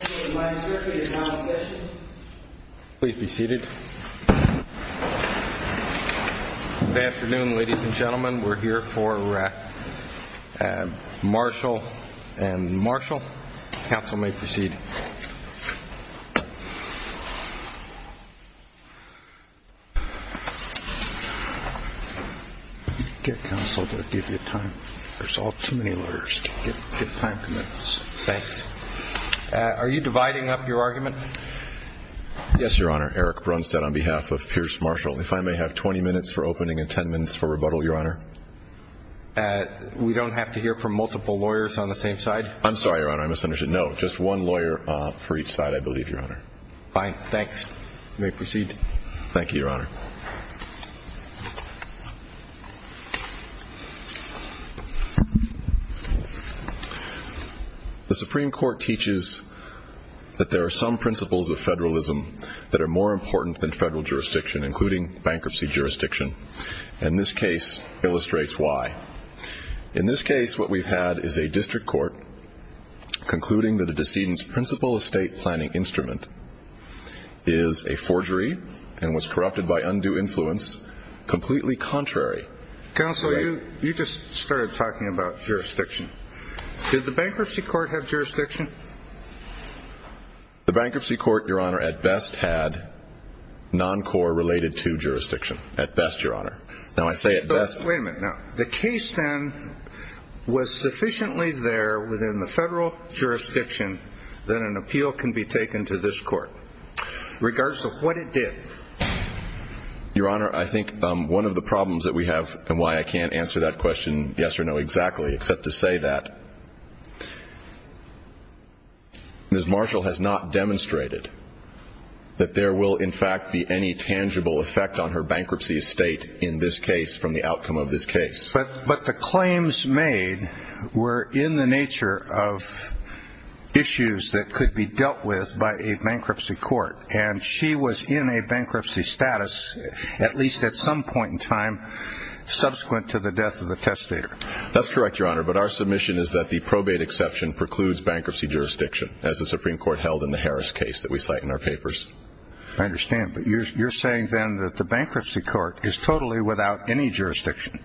Please be seated. Good afternoon ladies and gentlemen. We're here for Marshall v. Marshall. Counsel may proceed. Are you dividing up your argument? Yes, your honor. Eric Brunstad on behalf of Pierce Marshall. If I may have 20 minutes for opening and 10 minutes for rebuttal, your honor. We don't have to hear from multiple lawyers on the same side? I'm sorry, your honor. I misunderstood. No. Just one lawyer for each side, I believe. Fine. Thanks. You may proceed. Thank you. The Supreme Court teaches that there are some principles of federalism that are more important than federal jurisdiction, including bankruptcy jurisdiction. And this case illustrates why. In this case what we've had is a district court concluding that a decedent's principal estate planning instrument is a forgery and was corrupted by undue influence, completely contrary. Counselor, you just started talking about jurisdiction. Did the bankruptcy court have jurisdiction? The bankruptcy court, Your Honor, at best, Your Honor. Now, I say at best. Wait a minute. Now, the case then was sufficiently there within the federal jurisdiction that an appeal can be taken to this court. Regardless of what it did. Your Honor, I think one of the problems that we have and why I can't answer that question yes or no exactly except to say that Ms. Marshall has not demonstrated that there will, in fact, be any tangible effect on her bankruptcy estate in this case from the outcome of this case. But the claims made were in the nature of issues that could be dealt with by a bankruptcy court. And she was in a bankruptcy status at least at some point in time That's correct, Your Honor. But our submission is that the probate exception precludes bankruptcy jurisdiction as the Supreme Court held in the Harris case that we cite in our papers. I understand. But you're saying then that the bankruptcy court is totally without any jurisdiction.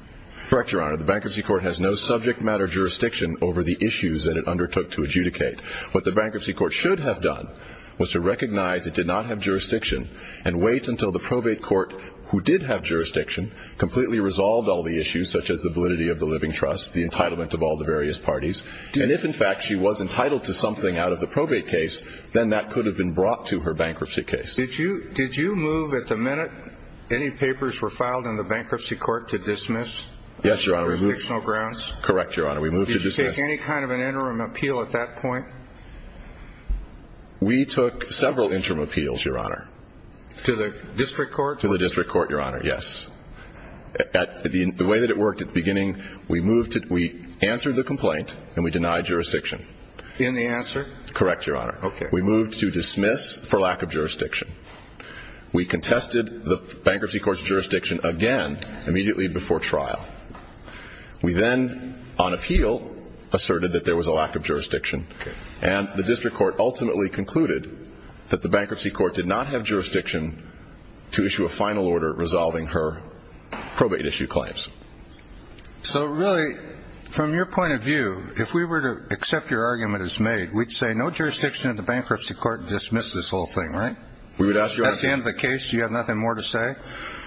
Correct, Your Honor. The bankruptcy court has no subject matter jurisdiction over the issues that it undertook to adjudicate. What the bankruptcy court should have done was to recognize it did not have jurisdiction and wait until the probate court, who did have jurisdiction, completely resolved all the issues such as the validity of the living trust, the entitlement of all the various parties. And if, in fact, she was entitled to something out of the probate case, then that could have been brought to her bankruptcy case. Did you move at the minute any papers were filed in the bankruptcy court to dismiss on jurisdictional grounds? Correct, Your Honor. We moved to dismiss. Did you take any kind of an interim appeal at that point? We took several interim appeals, Your Honor. To the district court? To the district court, Your Honor, yes. The way that it worked at the beginning, we answered the complaint and we denied jurisdiction. In the answer? Correct, Your Honor. Okay. We moved to dismiss for lack of jurisdiction. We contested the bankruptcy court's jurisdiction again immediately before trial. We then, on appeal, asserted that there was a lack of jurisdiction. Okay. And the district court ultimately concluded that the bankruptcy court did not have jurisdiction to issue a final order resolving her probate issue claims. So, really, from your point of view, if we were to accept your argument as made, we'd say no jurisdiction in the bankruptcy court to dismiss this whole thing, right? We would ask Your Honor. At the end of the case, do you have nothing more to say?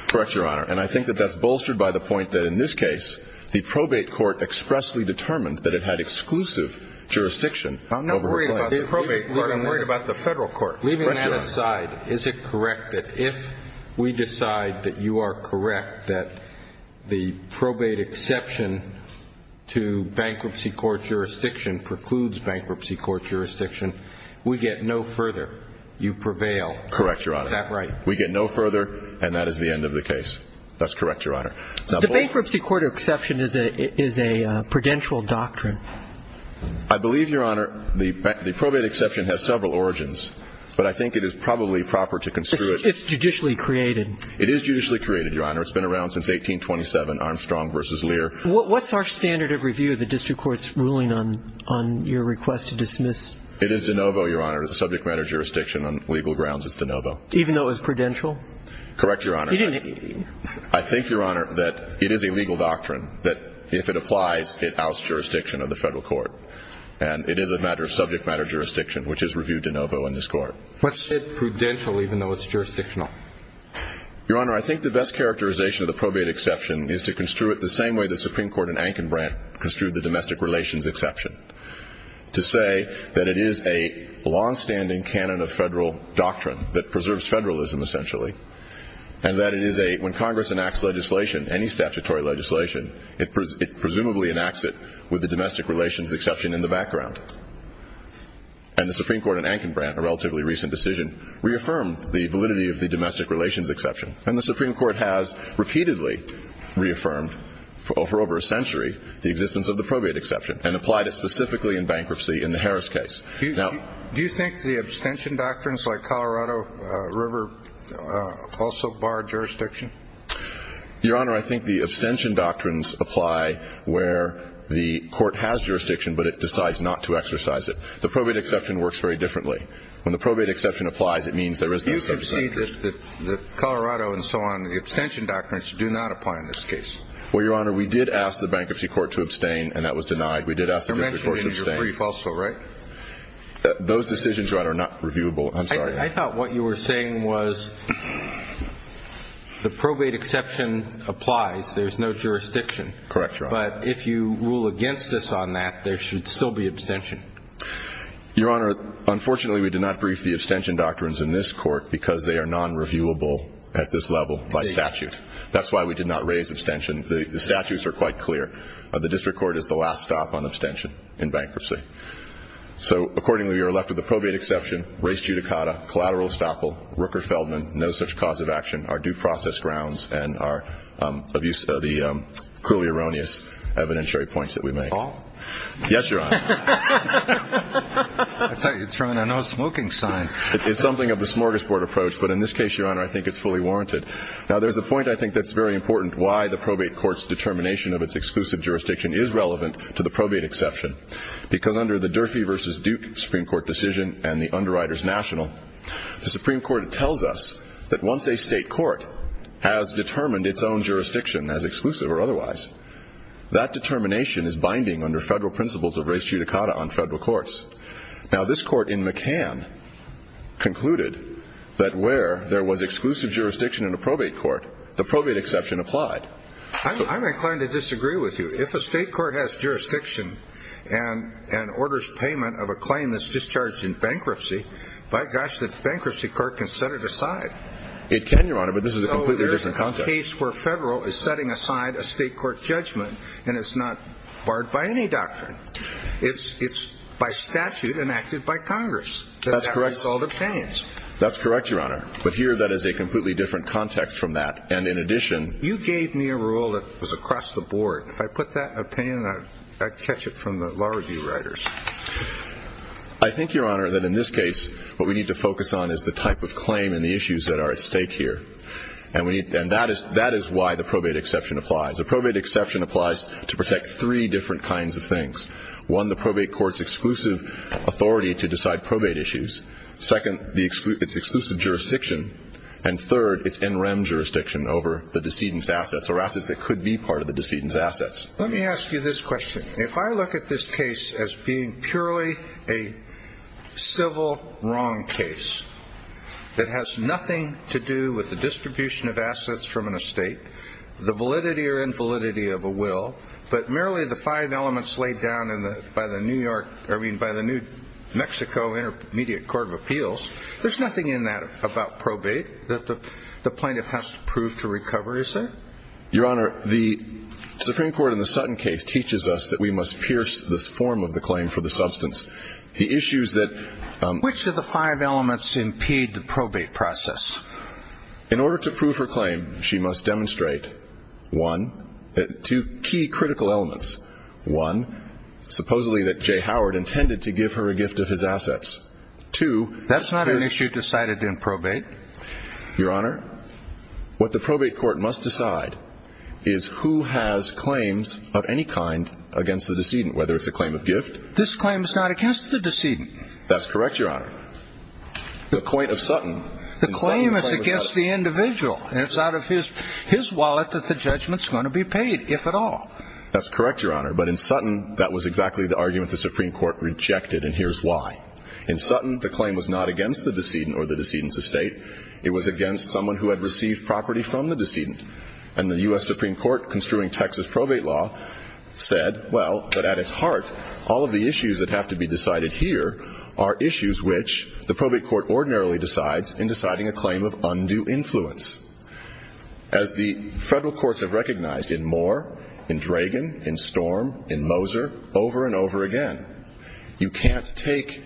Correct, Your Honor. And I think that that's bolstered by the point that, in this case, the probate court expressly determined that it had exclusive jurisdiction over her claim. I'm not worried about the probate court. I'm worried about the federal court. Leaving that aside, is it correct that if we decide that you are correct that the probate exception to bankruptcy court jurisdiction precludes bankruptcy court jurisdiction, we get no further? You prevail. Correct, Your Honor. Is that right? We get no further, and that is the end of the case. That's correct, Your Honor. The bankruptcy court exception is a prudential doctrine. I believe, Your Honor, the probate exception has several origins, but I think it is probably proper to construe it. It's judicially created. It is judicially created, Your Honor. It's been around since 1827, Armstrong v. Lear. What's our standard of review of the district court's ruling on your request to dismiss? It is de novo, Your Honor. It's a subject matter jurisdiction on legal grounds. It's de novo. Even though it was prudential? Correct, Your Honor. I think, Your Honor, that it is a legal doctrine that, if it applies, it outs jurisdiction of the federal court. And it is a matter of subject matter jurisdiction, which is reviewed de novo in this court. What's it prudential, even though it's jurisdictional? Your Honor, I think the best characterization of the probate exception is to construe it the same way the Supreme Court in Ankenbrand construed the domestic relations exception, to say that it is a longstanding canon of federal doctrine that preserves federalism, essentially, and that when Congress enacts legislation, any statutory legislation, it presumably enacts it with the domestic relations exception in the background. And the Supreme Court in Ankenbrand, a relatively recent decision, reaffirmed the validity of the domestic relations exception. And the Supreme Court has repeatedly reaffirmed for over a century the existence of the probate exception and applied it specifically in bankruptcy in the Harris case. Do you think the abstention doctrines like Colorado River also bar jurisdiction? Your Honor, I think the abstention doctrines apply where the court has jurisdiction, but it decides not to exercise it. The probate exception works very differently. When the probate exception applies, it means there is no such exception. But you say that Colorado and so on, the abstention doctrines do not apply in this case. Well, Your Honor, we did ask the bankruptcy court to abstain, and that was denied. We did ask the bankruptcy court to abstain. You mentioned in your brief also, right? Those decisions, Your Honor, are not reviewable. I'm sorry. I thought what you were saying was the probate exception applies. There is no jurisdiction. Correct, Your Honor. But if you rule against us on that, there should still be abstention. Your Honor, unfortunately, we did not brief the abstention doctrines in this court because they are nonreviewable at this level by statute. That's why we did not raise abstention. The statutes are quite clear. The district court is the last stop on abstention in bankruptcy. So, accordingly, we are left with the probate exception, race judicata, collateral estoppel, Rooker-Feldman, no such cause of action, our due process grounds, and our abuse of the cruelly erroneous evidentiary points that we make. All? Yes, Your Honor. I tell you, it's throwing a no-smoking sign. It's something of the smorgasbord approach, but in this case, Your Honor, I think it's fully warranted. Now, there's a point I think that's very important why the probate court's determination of its exclusive jurisdiction is relevant to the probate exception, because under the Durfee v. Duke Supreme Court decision and the Underwriters National, the Supreme Court tells us that once a state court has determined its own jurisdiction as exclusive or otherwise, that determination is binding under federal principles of race judicata on federal courts. Now, this court in McCann concluded that where there was exclusive jurisdiction in a probate court, the probate exception applied. I'm inclined to disagree with you. If a state court has jurisdiction and orders payment of a claim that's discharged in bankruptcy, by gosh, the bankruptcy court can set it aside. It can, Your Honor, but this is a completely different context. This is a case where federal is setting aside a state court judgment, and it's not barred by any doctrine. It's by statute enacted by Congress. That's correct. That's a result of payments. That's correct, Your Honor. But here, that is a completely different context from that, and in addition— You gave me a rule that was across the board. If I put that opinion, I'd catch it from the law review writers. I think, Your Honor, that in this case, what we need to focus on is the type of claim and the issues that are at stake here. And that is why the probate exception applies. A probate exception applies to protect three different kinds of things. One, the probate court's exclusive authority to decide probate issues. Second, its exclusive jurisdiction. And third, its NREM jurisdiction over the decedent's assets or assets that could be part of the decedent's assets. Let me ask you this question. If I look at this case as being purely a civil wrong case that has nothing to do with the distribution of assets from an estate, the validity or invalidity of a will, but merely the five elements laid down by the New York— I mean, by the New Mexico Intermediate Court of Appeals, there's nothing in that about probate that the plaintiff has to prove to recover, is there? Your Honor, the Supreme Court in the Sutton case teaches us that we must pierce this form of the claim for the substance. The issues that— Which of the five elements impede the probate process? In order to prove her claim, she must demonstrate, one, two key critical elements. One, supposedly that Jay Howard intended to give her a gift of his assets. Two— That's not an issue decided in probate. Your Honor, what the probate court must decide is who has claims of any kind against the decedent, whether it's a claim of gift— This claim is not against the decedent. That's correct, Your Honor. The point of Sutton— The claim is against the individual, and it's out of his wallet that the judgment's going to be paid, if at all. That's correct, Your Honor. But in Sutton, that was exactly the argument the Supreme Court rejected, and here's why. In Sutton, the claim was not against the decedent or the decedent's estate. It was against someone who had received property from the decedent. And the U.S. Supreme Court, construing Texas probate law, said, well, but at its heart, all of the issues that have to be decided here are issues which the probate court ordinarily decides in deciding a claim of undue influence. As the federal courts have recognized in Moore, in Dragan, in Storm, in Moser, over and over again, you can't take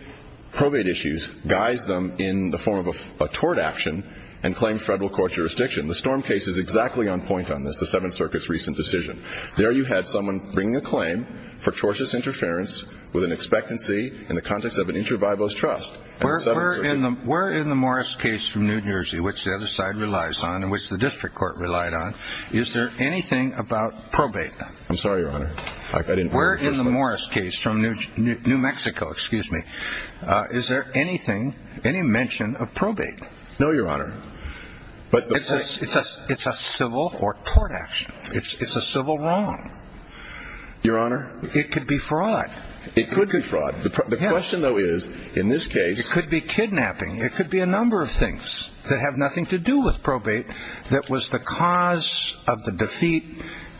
probate issues, guise them in the form of a tort action, and claim federal court jurisdiction. The Storm case is exactly on point on this, the Seventh Circuit's recent decision. There you had someone bringing a claim for tortious interference with an expectancy in the context of an intravivos trust. Where in the Morris case from New Jersey, which the other side relies on and which the district court relied on, is there anything about probate law? I'm sorry, Your Honor. I didn't— Where in the Morris case from New Mexico, excuse me, is there anything, any mention of probate? No, Your Honor. But— It's a civil or tort action. It's a civil wrong. Your Honor— It could be fraud. It could be fraud. The question, though, is, in this case— It could be kidnapping. It could be a number of things that have nothing to do with probate that was the cause of the defeat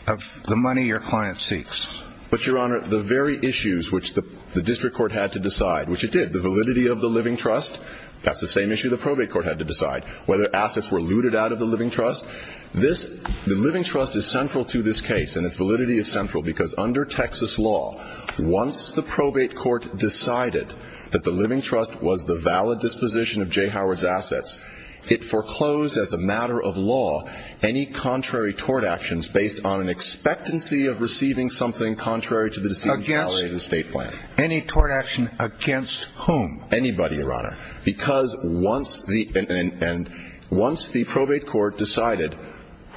of the money your client seeks. But, Your Honor, the very issues which the district court had to decide, which it did, the validity of the living trust, that's the same issue the probate court had to decide, whether assets were looted out of the living trust. This—the living trust is central to this case, and its validity is central because under Texas law, once the probate court decided that the living trust was the valid disposition of J. Howard's assets, it foreclosed, as a matter of law, any contrary tort actions based on an expectancy of receiving something contrary to the deceit— Against— —of the state plan. Any tort action against whom? Anybody, Your Honor, because once the probate court decided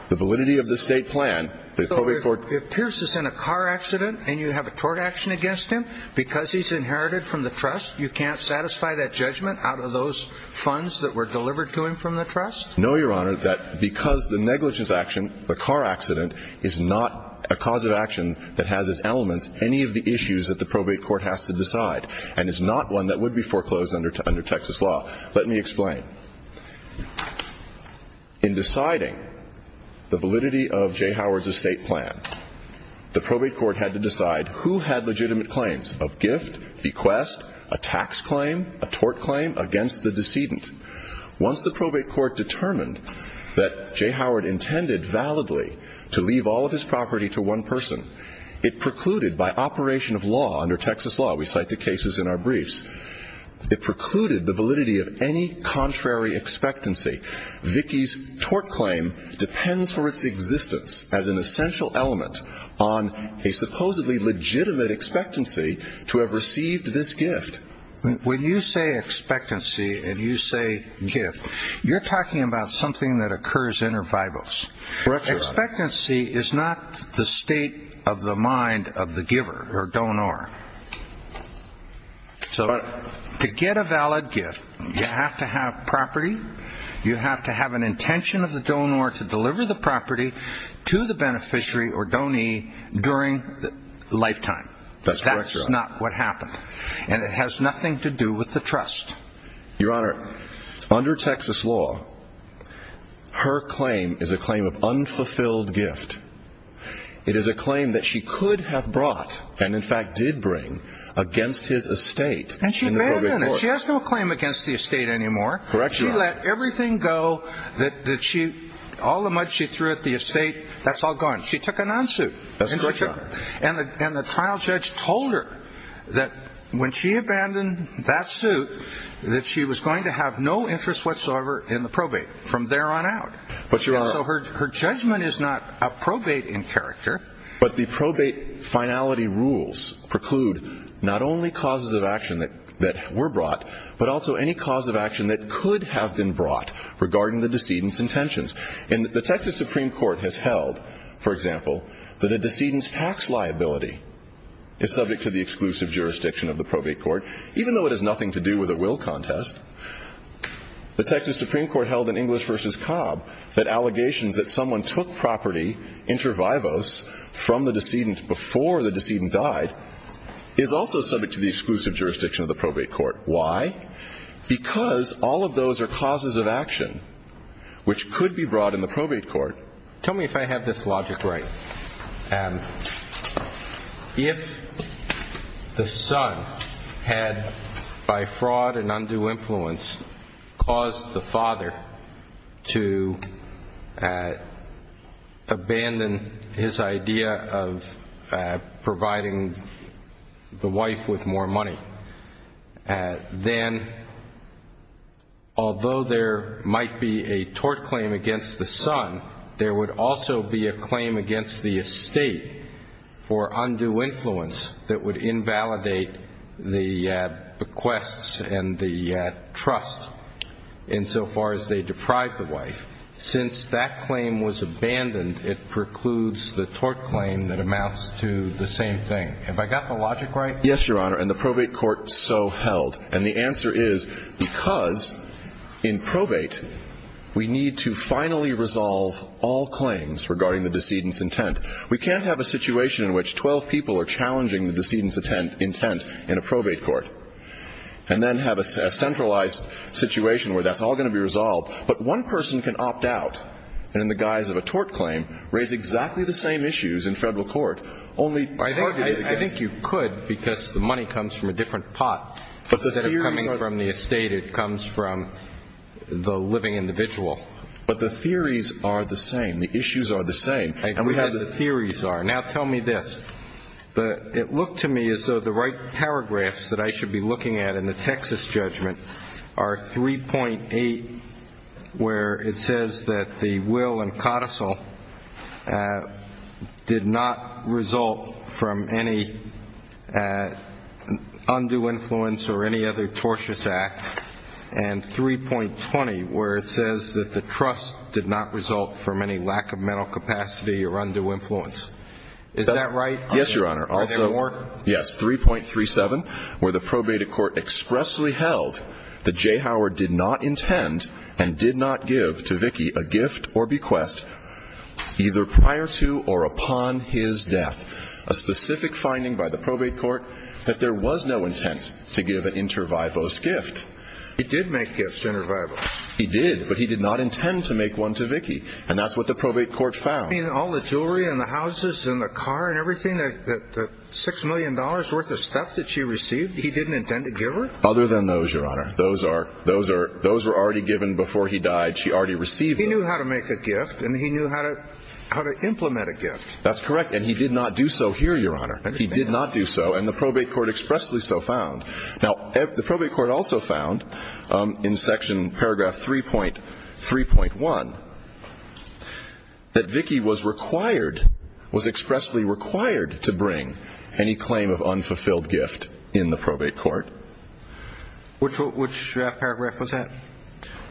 the validity of the state plan, the probate court— So if Pierce is in a car accident and you have a tort action against him, because he's inherited from the trust, you can't satisfy that judgment out of those funds that were delivered to him from the trust? No, Your Honor. That—because the negligence action, the car accident, is not a cause of action that has as elements any of the issues that the probate court has to decide, and is not one that would be foreclosed under Texas law. Let me explain. In deciding the validity of J. Howard's estate plan, the probate court had to decide who had legitimate claims of gift, bequest, a tax claim, a tort claim against the decedent. Once the probate court determined that J. Howard intended validly to leave all of his property to one person, it precluded by operation of law, under Texas law—we cite the cases in our briefs— it precluded the validity of any contrary expectancy. Vicki's tort claim depends for its existence as an essential element on a supposedly legitimate expectancy to have received this gift. When you say expectancy and you say gift, you're talking about something that occurs inter vivos. Correct, Your Honor. Expectancy is not the state of the mind of the giver or donor. So to get a valid gift, you have to have property, you have to have an intention of the donor to deliver the property to the beneficiary or donee during the lifetime. That's correct, Your Honor. That's not what happened. And it has nothing to do with the trust. Your Honor, under Texas law, her claim is a claim of unfulfilled gift. It is a claim that she could have brought and, in fact, did bring against his estate. And she abandoned it. She has no claim against the estate anymore. Correct, Your Honor. She let everything go. All the money she threw at the estate, that's all gone. She took a non-suit. That's correct, Your Honor. And the trial judge told her that when she abandoned that suit that she was going to have no interest whatsoever in the probate from there on out. So her judgment is not a probate in character. But the probate finality rules preclude not only causes of action that were brought but also any cause of action that could have been brought regarding the decedent's intentions. And the Texas Supreme Court has held, for example, that a decedent's tax liability is subject to the exclusive jurisdiction of the probate court, even though it has nothing to do with a will contest. The Texas Supreme Court held in English v. Cobb that allegations that someone took property inter vivos from the decedent before the decedent died is also subject to the exclusive jurisdiction of the probate court. Why? Because all of those are causes of action which could be brought in the probate court. Tell me if I have this logic right. If the son had, by fraud and undue influence, caused the father to abandon his idea of providing the wife with more money, then although there might be a tort claim against the son, there would also be a claim against the estate for undue influence that would invalidate the bequests and the trust insofar as they deprive the wife. Since that claim was abandoned, it precludes the tort claim that amounts to the same thing. Have I got the logic right? Yes, Your Honor. And the probate court so held. And the answer is because in probate we need to finally resolve all claims regarding the decedent's intent. We can't have a situation in which 12 people are challenging the decedent's intent in a probate court and then have a centralized situation where that's all going to be resolved. But one person can opt out and, in the guise of a tort claim, raise exactly the same issues in Federal court, only targeted against. I think you could because the money comes from a different pot. Instead of coming from the estate, it comes from the living individual. But the theories are the same. The issues are the same. I agree how the theories are. Now tell me this. It looked to me as though the right paragraphs that I should be looking at in the Texas judgment are 3.8, where it says that the will and codicil did not result from any undue influence or any other tortious act, and 3.20, where it says that the trust did not result from any lack of mental capacity or undue influence. Is that right? Yes, Your Honor. Are there more? Yes, 3.37, where the probate court expressly held that J. Howard did not intend and did not give to Vicki a gift or bequest either prior to or upon his death, a specific finding by the probate court that there was no intent to give an inter vivos gift. He did make gifts inter vivos. He did, but he did not intend to make one to Vicki, and that's what the probate court found. You mean all the jewelry and the houses and the car and everything, the $6 million worth of stuff that she received, he didn't intend to give her? Other than those, Your Honor. Those were already given before he died. She already received them. He knew how to make a gift, and he knew how to implement a gift. That's correct, and he did not do so here, Your Honor. He did not do so, and the probate court expressly so found. Now, the probate court also found in section paragraph 3.1 that Vicki was required, was expressly required to bring any claim of unfulfilled gift in the probate court. Which paragraph was that?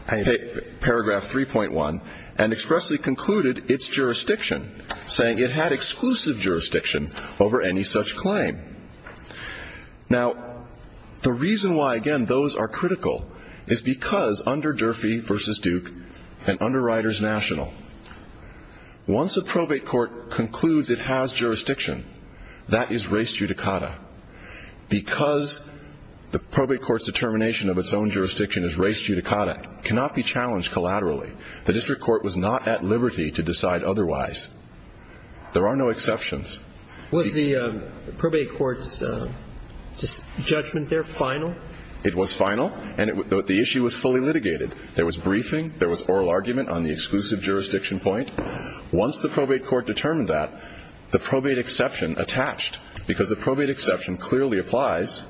Paragraph 3.1, and expressly concluded its jurisdiction, saying it had exclusive jurisdiction over any such claim. Now, the reason why, again, those are critical is because under Durfee v. Duke and under Riders National, once a probate court concludes it has jurisdiction, that is race judicata. Because the probate court's determination of its own jurisdiction is race judicata, it cannot be challenged collaterally. The district court was not at liberty to decide otherwise. There are no exceptions. Was the probate court's judgment there final? It was final, and the issue was fully litigated. There was briefing. There was oral argument on the exclusive jurisdiction point. Once the probate court determined that, the probate exception attached, because the probate exception clearly applies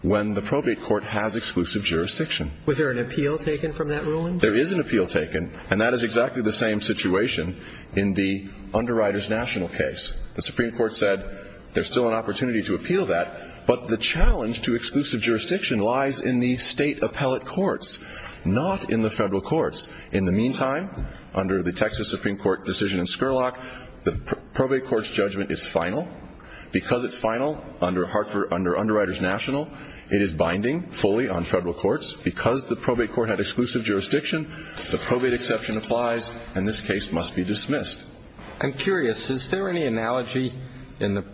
when the probate court has exclusive jurisdiction. Was there an appeal taken from that ruling? There is an appeal taken, and that is exactly the same situation in the under Riders National case. The Supreme Court said there's still an opportunity to appeal that, but the challenge to exclusive jurisdiction lies in the State appellate courts, not in the Federal courts. In the meantime, under the Texas Supreme Court decision in Scurlock, the probate court's judgment is final. Because it's final under under Riders National, it is binding fully on Federal courts. Because the probate court had exclusive jurisdiction, the probate exception applies, and this case must be dismissed. I'm curious. Is there any analogy in the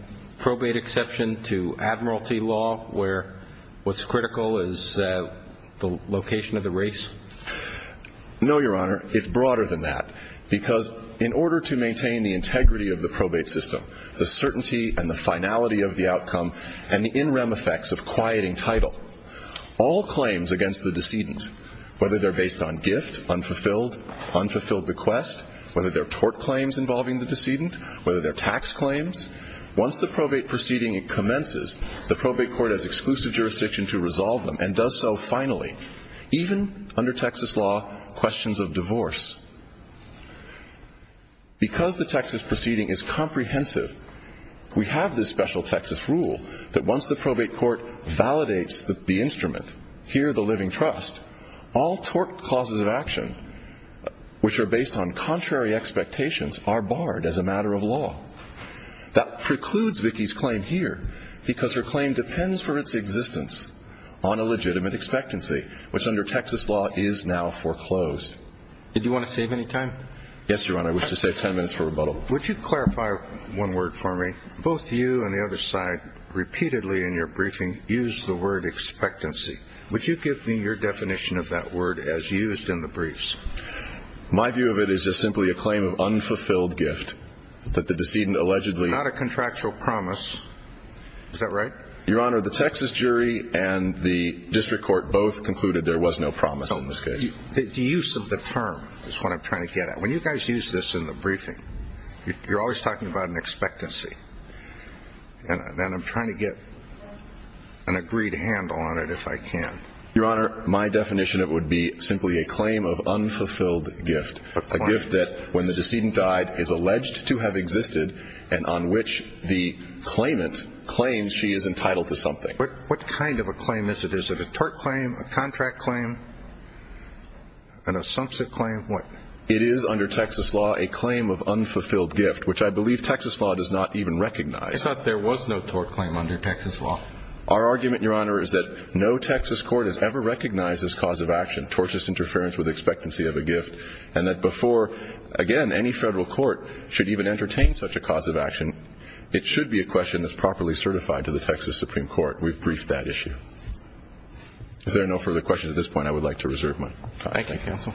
probate exception to admiralty law, where what's critical is the location of the race? No, Your Honor. It's broader than that, because in order to maintain the integrity of the probate system, the certainty and the finality of the outcome, and the in rem effects of quieting title, all claims against the decedent, whether they're based on gift, unfulfilled, unfulfilled bequest, whether they're tort claims involving the decedent, whether they're tax claims, once the probate proceeding commences, the probate court has exclusive jurisdiction to resolve them and does so finally, even under Texas law, questions of divorce. Because the Texas proceeding is comprehensive, we have this special Texas rule that once the probate court validates the instrument, here the living trust, all tort clauses of action which are based on contrary expectations are barred as a matter of law. That precludes Vicki's claim here, because her claim depends for its existence on a legitimate expectancy, which under Texas law is now foreclosed. Did you want to save any time? Yes, Your Honor. I wish to save 10 minutes for rebuttal. Would you clarify one word for me? Both you and the other side repeatedly in your briefing used the word expectancy. Would you give me your definition of that word as used in the briefs? My view of it is just simply a claim of unfulfilled gift that the decedent allegedly Not a contractual promise. Is that right? Your Honor, the Texas jury and the district court both concluded there was no promise in this case. The use of the term is what I'm trying to get at. When you guys use this in the briefing, you're always talking about an expectancy, and I'm trying to get an agreed handle on it if I can. Your Honor, my definition of it would be simply a claim of unfulfilled gift, a gift that when the decedent died is alleged to have existed and on which the claimant claims she is entitled to something. What kind of a claim is it? Is it a tort claim, a contract claim, an assumption claim? What? It is under Texas law a claim of unfulfilled gift, which I believe Texas law does not even recognize. I thought there was no tort claim under Texas law. Our argument, Your Honor, is that no Texas court has ever recognized this cause of action, tortious interference with expectancy of a gift, and that before, again, any federal court should even entertain such a cause of action, it should be a question that's properly certified to the Texas Supreme Court. We've briefed that issue. If there are no further questions at this point, I would like to reserve mine. Thank you, counsel.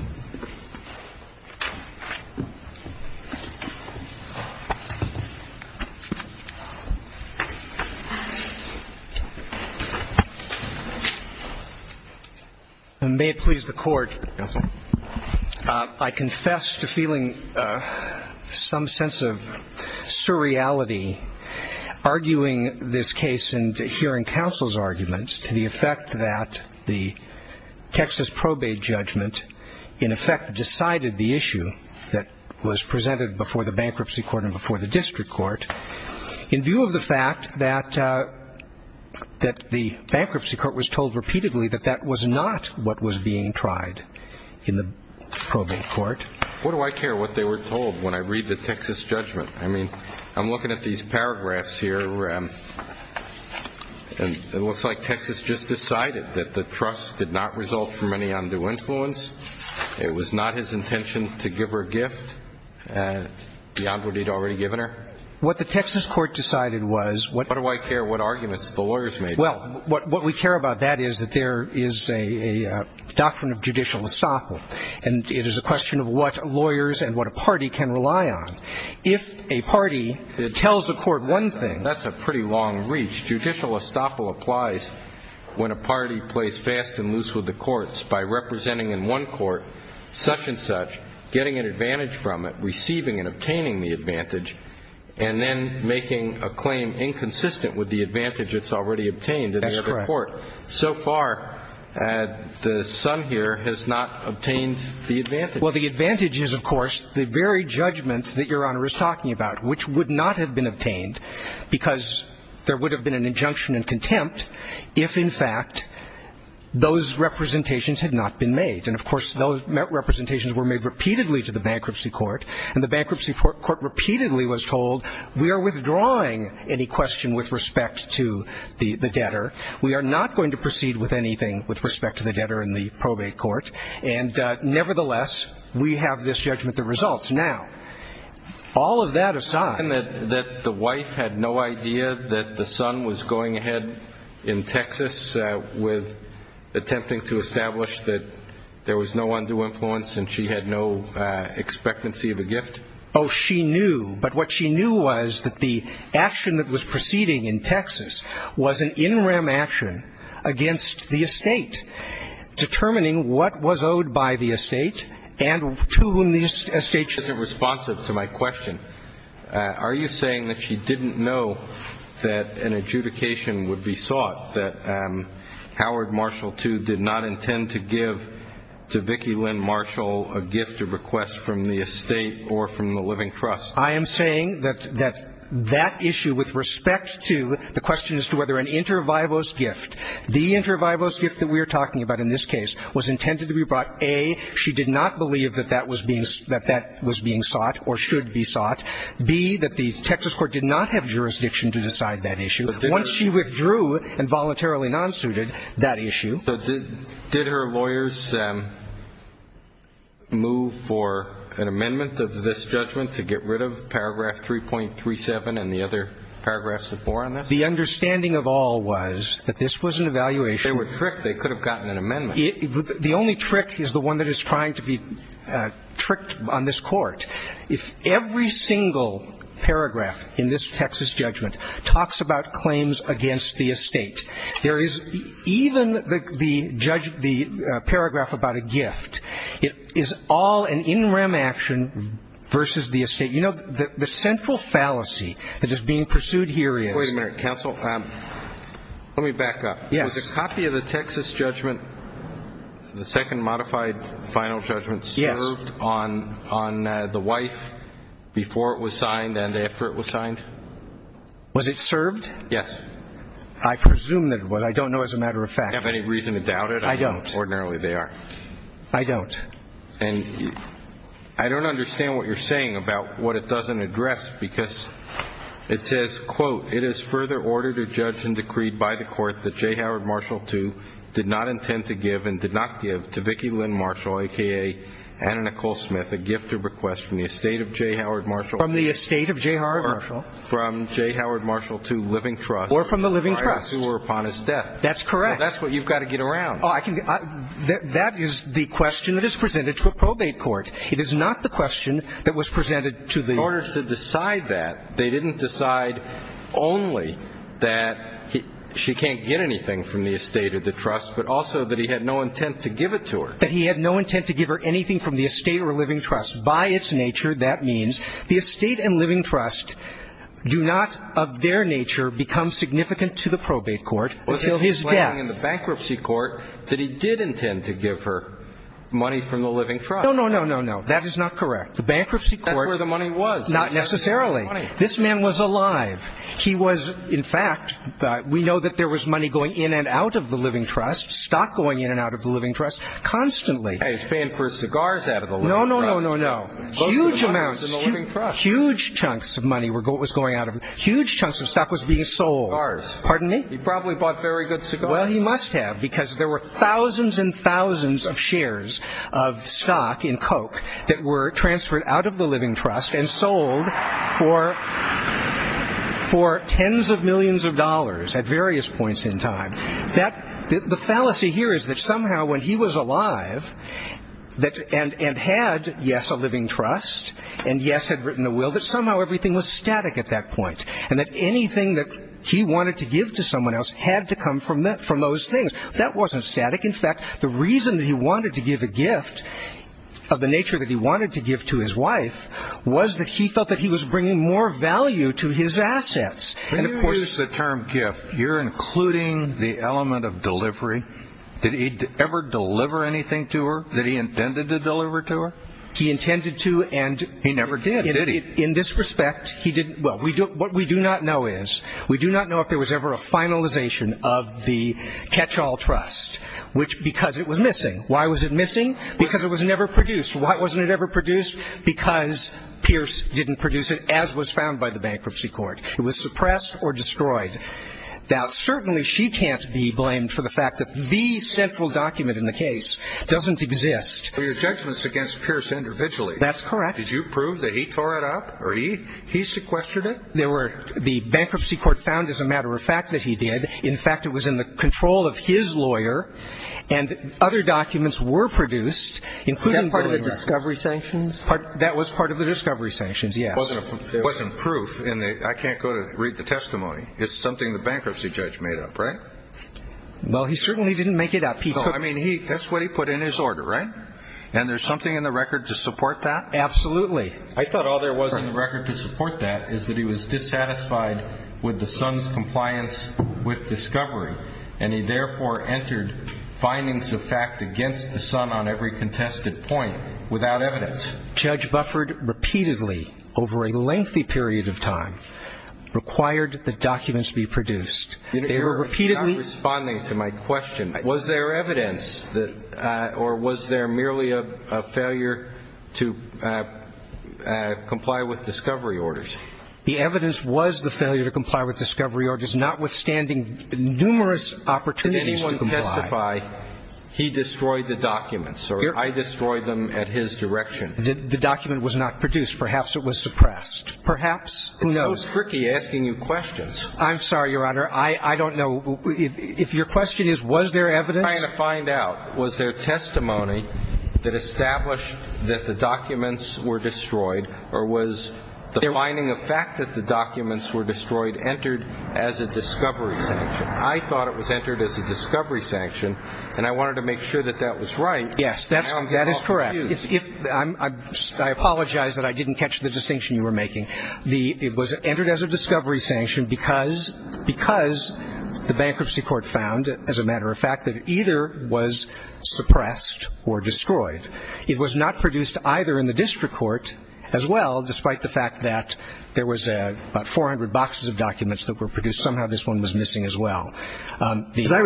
And may it please the Court, I confess to feeling some sense of surreality arguing this case and hearing counsel's argument to the effect that the Texas probate judgment in effect decided the issue that was presented before the bankruptcy court and before the district court in view of the fact that the bankruptcy court was told repeatedly that that was not what was being tried in the probate court. What do I care what they were told when I read the Texas judgment? I mean, I'm looking at these paragraphs here. It looks like Texas just decided that the trust did not result from any undue influence. It was not his intention to give her a gift beyond what he'd already given her. What the Texas court decided was what do I care what arguments the lawyers made? Well, what we care about, that is, that there is a doctrine of judicial estoppel, and it is a question of what lawyers and what a party can rely on. If a party tells a court one thing, that's a pretty long reach. Judicial estoppel applies when a party plays fast and loose with the courts by representing in one court such and such, getting an advantage from it, receiving and obtaining the advantage, and then making a claim inconsistent with the advantage it's already obtained in the other court. That's correct. So far, the son here has not obtained the advantage. Well, the advantage is, of course, the very judgment that Your Honor is talking about, which would not have been obtained because there would have been an injunction in contempt if, in fact, those representations had not been made. And, of course, those representations were made repeatedly to the bankruptcy court, and the bankruptcy court repeatedly was told we are withdrawing any question with respect to the debtor. We are not going to proceed with anything with respect to the debtor in the probate court. And, nevertheless, we have this judgment that results. Now, all of that aside. And that the wife had no idea that the son was going ahead in Texas with attempting to establish that there was no undue influence and she had no expectancy of a gift? Oh, she knew. But what she knew was that the action that was proceeding in Texas was an in rem action against the estate, determining what was owed by the estate and to whom the estate should be. This isn't responsive to my question. Are you saying that she didn't know that an adjudication would be sought, that Howard Marshall, too, did not intend to give to Vicki Lynn Marshall a gift, a request from the estate or from the living trust? I am saying that that issue with respect to the question as to whether an inter vivos gift, the inter vivos gift that we are talking about in this case was intended to be brought, A, she did not believe that that was being sought or should be sought, B, that the Texas court did not have jurisdiction to decide that issue. Once she withdrew and voluntarily non-suited that issue. So did her lawyers move for an amendment of this judgment to get rid of paragraph 3.37 and the other paragraphs that bore on this? The understanding of all was that this was an evaluation. They were tricked. They could have gotten an amendment. The only trick is the one that is trying to be tricked on this court. If every single paragraph in this Texas judgment talks about claims against the estate, there is even the paragraph about a gift. It is all an in rem action versus the estate. You know, the central fallacy that is being pursued here is. Wait a minute, counsel. Let me back up. Was a copy of the Texas judgment, the second modified final judgment, served on the wife before it was signed and after it was signed? Was it served? Yes. I presume that it was. I don't know as a matter of fact. Do you have any reason to doubt it? I don't. Ordinarily they are. I don't. And I don't understand what you're saying about what it doesn't address because it says, quote, it is further ordered or judged and decreed by the court that J. Howard Marshall II did not intend to give and did not give to Vicki Lynn Marshall, a.k.a. Anna Nicole Smith, a gift or request from the estate of J. Howard Marshall. From the estate of J. Howard Marshall. Or from J. Howard Marshall II living trust. Or from the living trust. Who were upon his death. That's correct. That's what you've got to get around. That is the question that is presented to a probate court. It is not the question that was presented to the. In order to decide that, they didn't decide only that she can't get anything from the estate or the trust, but also that he had no intent to give it to her. That he had no intent to give her anything from the estate or living trust. By its nature, that means the estate and living trust do not, of their nature, become significant to the probate court until his death. Was he explaining in the bankruptcy court that he did intend to give her money from the living trust? No, no, no, no, no. That is not correct. The bankruptcy court. That's where the money was. Not necessarily. This man was alive. He was, in fact, we know that there was money going in and out of the living trust. Stock going in and out of the living trust constantly. He was paying for his cigars out of the living trust. No, no, no, no, no. Huge amounts. Most of the money was in the living trust. Huge chunks of money was going out of. Huge chunks of stock was being sold. Cigars. Pardon me? He probably bought very good cigars. Well, he must have, because there were thousands and thousands of shares of stock in Coke that were transferred out of the living trust and sold for tens of millions of dollars at various points in time. The fallacy here is that somehow when he was alive and had, yes, a living trust, and yes, had written a will, that somehow everything was static at that point and that anything that he wanted to give to someone else had to come from those things. That wasn't static. In fact, the reason that he wanted to give a gift of the nature that he wanted to give to his wife was that he felt that he was bringing more value to his assets. When you use the term gift, you're including the element of delivery. Did he ever deliver anything to her that he intended to deliver to her? He intended to, and he never did. Did he? In this respect, he didn't. Well, what we do not know is, we do not know if there was ever a finalization of the catch-all trust, because it was missing. Why was it missing? Because it was never produced. Why wasn't it ever produced? Because Pierce didn't produce it, as was found by the bankruptcy court. It was suppressed or destroyed. Now, certainly she can't be blamed for the fact that the central document in the case doesn't exist. Your judgment's against Pierce individually. That's correct. Did you prove that he tore it up or he sequestered it? The bankruptcy court found, as a matter of fact, that he did. In fact, it was in the control of his lawyer, and other documents were produced. Was that part of the discovery sanctions? That was part of the discovery sanctions, yes. It wasn't proof. I can't go to read the testimony. It's something the bankruptcy judge made up, right? Well, he certainly didn't make it up. I mean, that's what he put in his order, right? And there's something in the record to support that? Absolutely. I thought all there was in the record to support that is that he was dissatisfied with the son's compliance with discovery, and he therefore entered findings of fact against the son on every contested point without evidence. Judge Bufford repeatedly, over a lengthy period of time, required the documents be produced. They were repeatedly ---- You're not responding to my question. Was there evidence or was there merely a failure to comply with discovery orders? The evidence was the failure to comply with discovery orders, notwithstanding numerous opportunities to comply. Did anyone testify he destroyed the documents or I destroyed them at his direction? The document was not produced. Perhaps it was suppressed. Perhaps. Who knows? It's so tricky asking you questions. I'm sorry, Your Honor. I don't know. If your question is, was there evidence? I'm trying to find out, was there testimony that established that the documents were destroyed or was the finding of fact that the documents were destroyed entered as a discovery sanction? I thought it was entered as a discovery sanction, and I wanted to make sure that that was right. Yes, that is correct. I apologize that I didn't catch the distinction you were making. It was entered as a discovery sanction because the bankruptcy court found, as a matter of fact, that it either was suppressed or destroyed. It was not produced either in the district court as well, despite the fact that there was about 400 boxes of documents that were produced. Somehow this one was missing as well. As I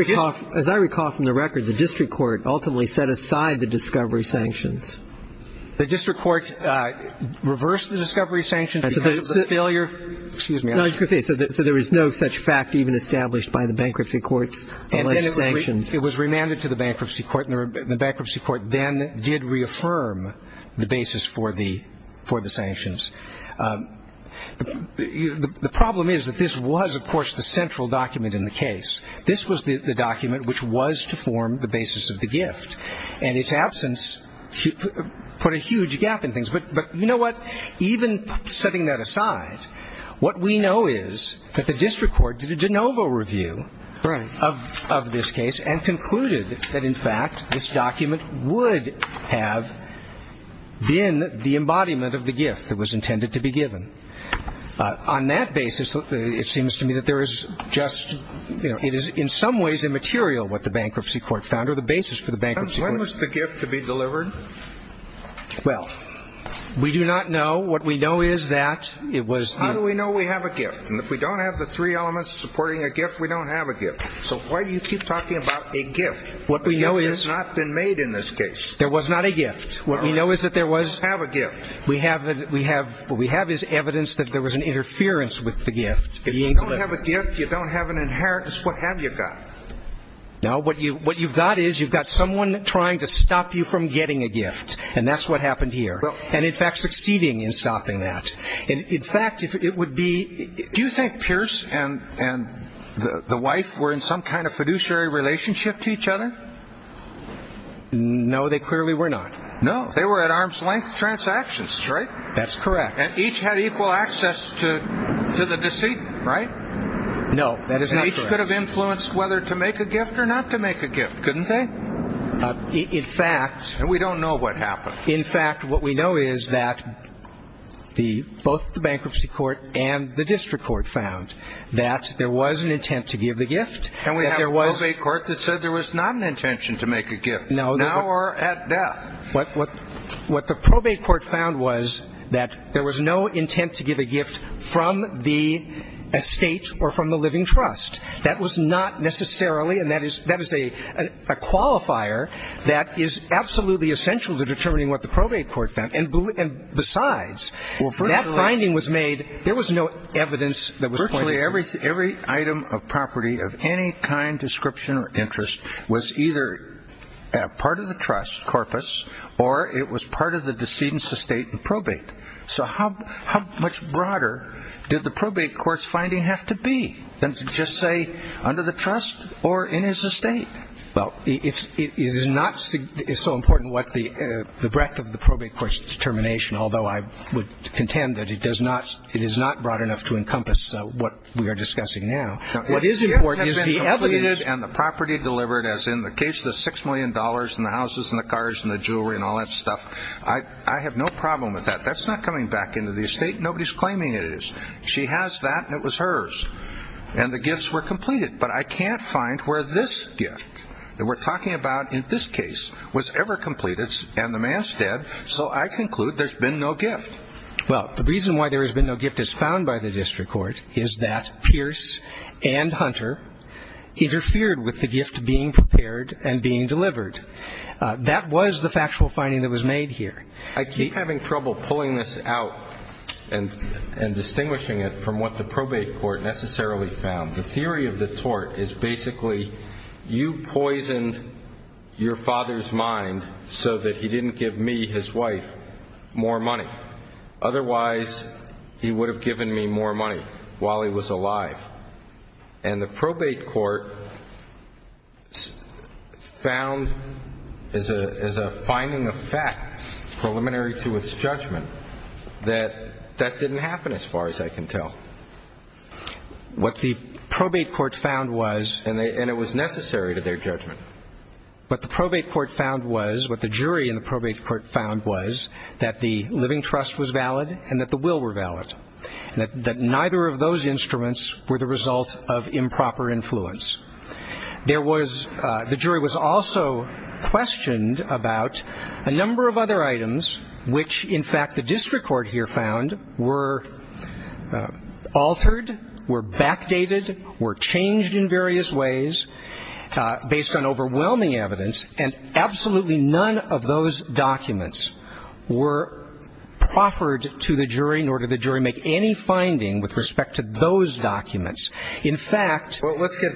recall from the record, the district court ultimately set aside the discovery sanctions. The district court reversed the discovery sanctions because of the failure of the sanctions. So there was no such fact even established by the bankruptcy court's alleged sanctions. It was remanded to the bankruptcy court, and the bankruptcy court then did reaffirm the basis for the sanctions. The problem is that this was, of course, the central document in the case. This was the document which was to form the basis of the gift, and its absence put a huge gap in things. But you know what? Even setting that aside, what we know is that the district court did a de novo review of this case and concluded that, in fact, this document would have been the embodiment of the gift that was intended to be given. On that basis, it seems to me that there is just, you know, it is in some ways immaterial what the bankruptcy court found or the basis for the bankruptcy court. When was the gift to be delivered? Well, we do not know. What we know is that it was the ñ How do we know we have a gift? And if we don't have the three elements supporting a gift, we don't have a gift. So why do you keep talking about a gift? What we know is ñ A gift has not been made in this case. There was not a gift. What we know is that there was ñ You don't have a gift. What we have is evidence that there was an interference with the gift being delivered. If you don't have a gift, you don't have an inheritance, what have you got? No, what you've got is you've got someone trying to stop you from getting a gift. And that's what happened here. And, in fact, succeeding in stopping that. In fact, it would be ñ Do you think Pierce and the wife were in some kind of fiduciary relationship to each other? No, they clearly were not. No, they were at arm's length transactions, right? That's correct. And each had equal access to the deceit, right? No, that is not correct. And each could have influenced whether to make a gift or not to make a gift, couldn't they? In fact ñ And we don't know what happened. In fact, what we know is that both the bankruptcy court and the district court found that there was an intent to give the gift. And we have a probate court that said there was not an intention to make a gift, now or at death. What the probate court found was that there was no intent to give a gift from the estate or from the living trust. That was not necessarily ñ and that is a qualifier that is absolutely essential to determining what the probate court found. And besides, that finding was made ñ there was no evidence that was pointed to. Every item of property of any kind, description, or interest was either part of the trust, corpus, or it was part of the decedent's estate and probate. So how much broader did the probate court's finding have to be than to just say under the trust or in his estate? Well, it is not ñ it is so important what the breadth of the probate court's determination, although I would contend that it does not ñ it is not broad enough to encompass what we are discussing now. What is important is the evidence and the property delivered, as in the case of the $6 million and the houses and the cars and the jewelry and all that stuff. I have no problem with that. That's not coming back into the estate. Nobody's claiming it is. She has that, and it was hers. And the gifts were completed. But I can't find where this gift that we're talking about in this case was ever completed, and the man's dead. So I conclude there's been no gift. Well, the reason why there has been no gift as found by the district court is that Pierce and Hunter interfered with the gift being prepared and being delivered. That was the factual finding that was made here. I keep having trouble pulling this out and distinguishing it from what the probate court necessarily found. The theory of the tort is basically you poisoned your father's mind so that he didn't give me, his wife, more money. Otherwise, he would have given me more money while he was alive. And the probate court found as a finding of fact preliminary to its judgment that that didn't happen as far as I can tell. What the probate court found was, and it was necessary to their judgment, what the probate court found was, what the jury in the probate court found was that the living trust was valid and that the will were valid, and that neither of those instruments were the result of improper influence. The jury was also questioned about a number of other items which, in fact, the district court here found were altered, were backdated, were changed in various ways based on overwhelming evidence, and absolutely none of those documents were proffered to the jury, nor did the jury make any finding with respect to those documents. Well, let's get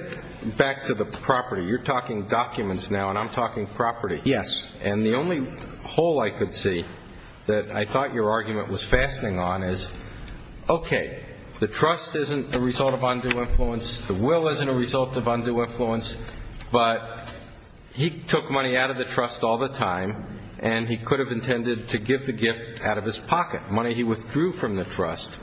back to the property. You're talking documents now, and I'm talking property. Yes. And the only hole I could see that I thought your argument was fastening on is, okay, the trust isn't the result of undue influence, the will isn't a result of undue influence, but he took money out of the trust all the time, and he could have intended to give the gift out of his pocket, money he withdrew from the trust.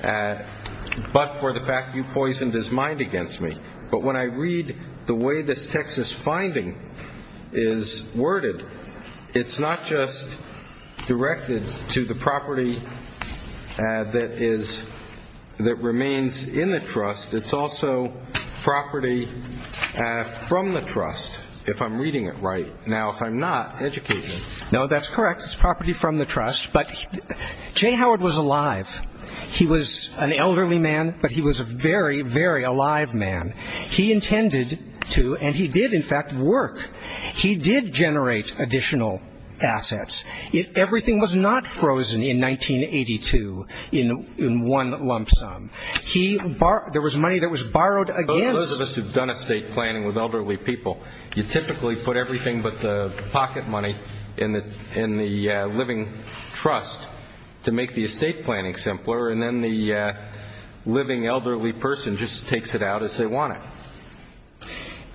But for the fact you poisoned his mind against me. But when I read the way this text is finding is worded, it's not just directed to the property that remains in the trust. It's also property from the trust, if I'm reading it right. Now, if I'm not, educate me. No, that's correct. It's property from the trust. But Jay Howard was alive. He was an elderly man, but he was a very, very alive man. He intended to, and he did, in fact, work. He did generate additional assets. Everything was not frozen in 1982 in one lump sum. There was money that was borrowed against. Those of us who have done estate planning with elderly people, you typically put everything but the pocket money in the living trust to make the estate planning simpler, and then the living elderly person just takes it out as they want it.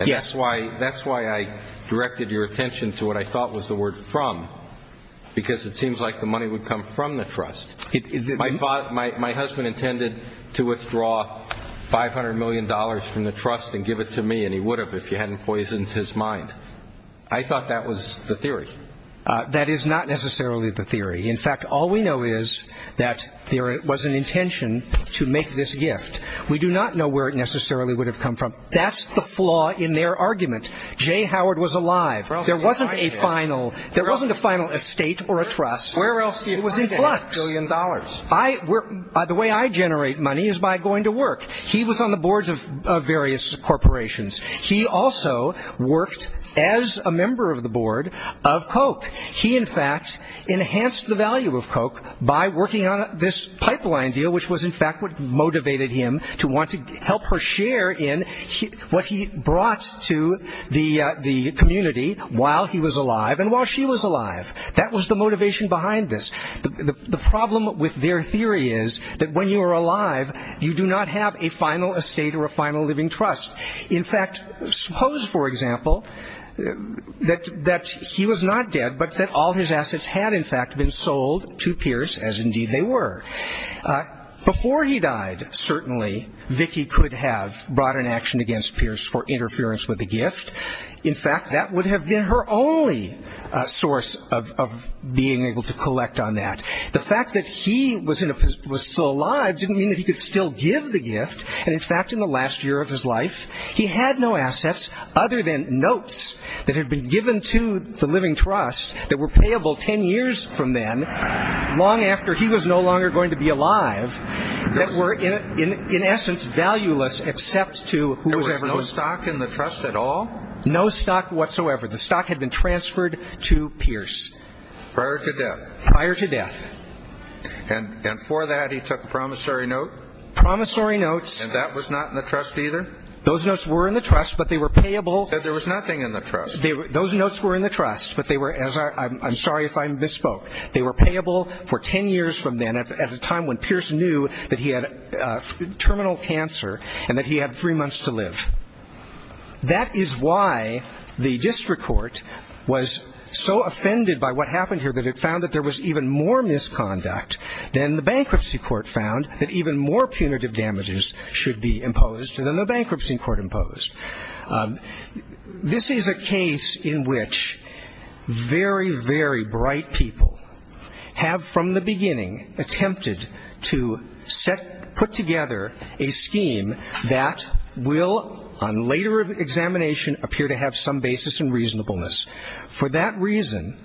Yes. That's why I directed your attention to what I thought was the word from, because it seems like the money would come from the trust. My husband intended to withdraw $500 million from the trust and give it to me, and he would have if you hadn't poisoned his mind. I thought that was the theory. That is not necessarily the theory. In fact, all we know is that there was an intention to make this gift. We do not know where it necessarily would have come from. That's the flaw in their argument. Jay Howard was alive. There wasn't a final estate or a trust. Where else do you find that billion dollars? The way I generate money is by going to work. He was on the boards of various corporations. He also worked as a member of the board of Koch. He, in fact, enhanced the value of Koch by working on this pipeline deal, which was in fact what motivated him to want to help her share in what he brought to the community while he was alive and while she was alive. That was the motivation behind this. The problem with their theory is that when you are alive, you do not have a final estate or a final living trust. In fact, suppose, for example, that he was not dead but that all his assets had in fact been sold to Pierce, as indeed they were. Before he died, certainly, Vicki could have brought an action against Pierce for interference with the gift. In fact, that would have been her only source of being able to collect on that. The fact that he was still alive didn't mean that he could still give the gift. In fact, in the last year of his life, he had no assets other than notes that had been given to the living trust that were payable ten years from then, long after he was no longer going to be alive, that were, in essence, valueless except to whoever gave them. No stock whatsoever. The stock had been transferred to Pierce. Prior to death. Prior to death. And for that, he took promissory notes? Promissory notes. And that was not in the trust either? Those notes were in the trust, but they were payable. You said there was nothing in the trust. Those notes were in the trust, but they were, as I'm sorry if I misspoke, they were payable for ten years from then at a time when Pierce knew that he had terminal cancer and that he had three months to live. That is why the district court was so offended by what happened here that it found that there was even more misconduct than the bankruptcy court found, that even more punitive damages should be imposed than the bankruptcy court imposed. This is a case in which very, very bright people have, from the beginning, attempted to put together a scheme that will, on later examination, appear to have some basis in reasonableness. For that reason,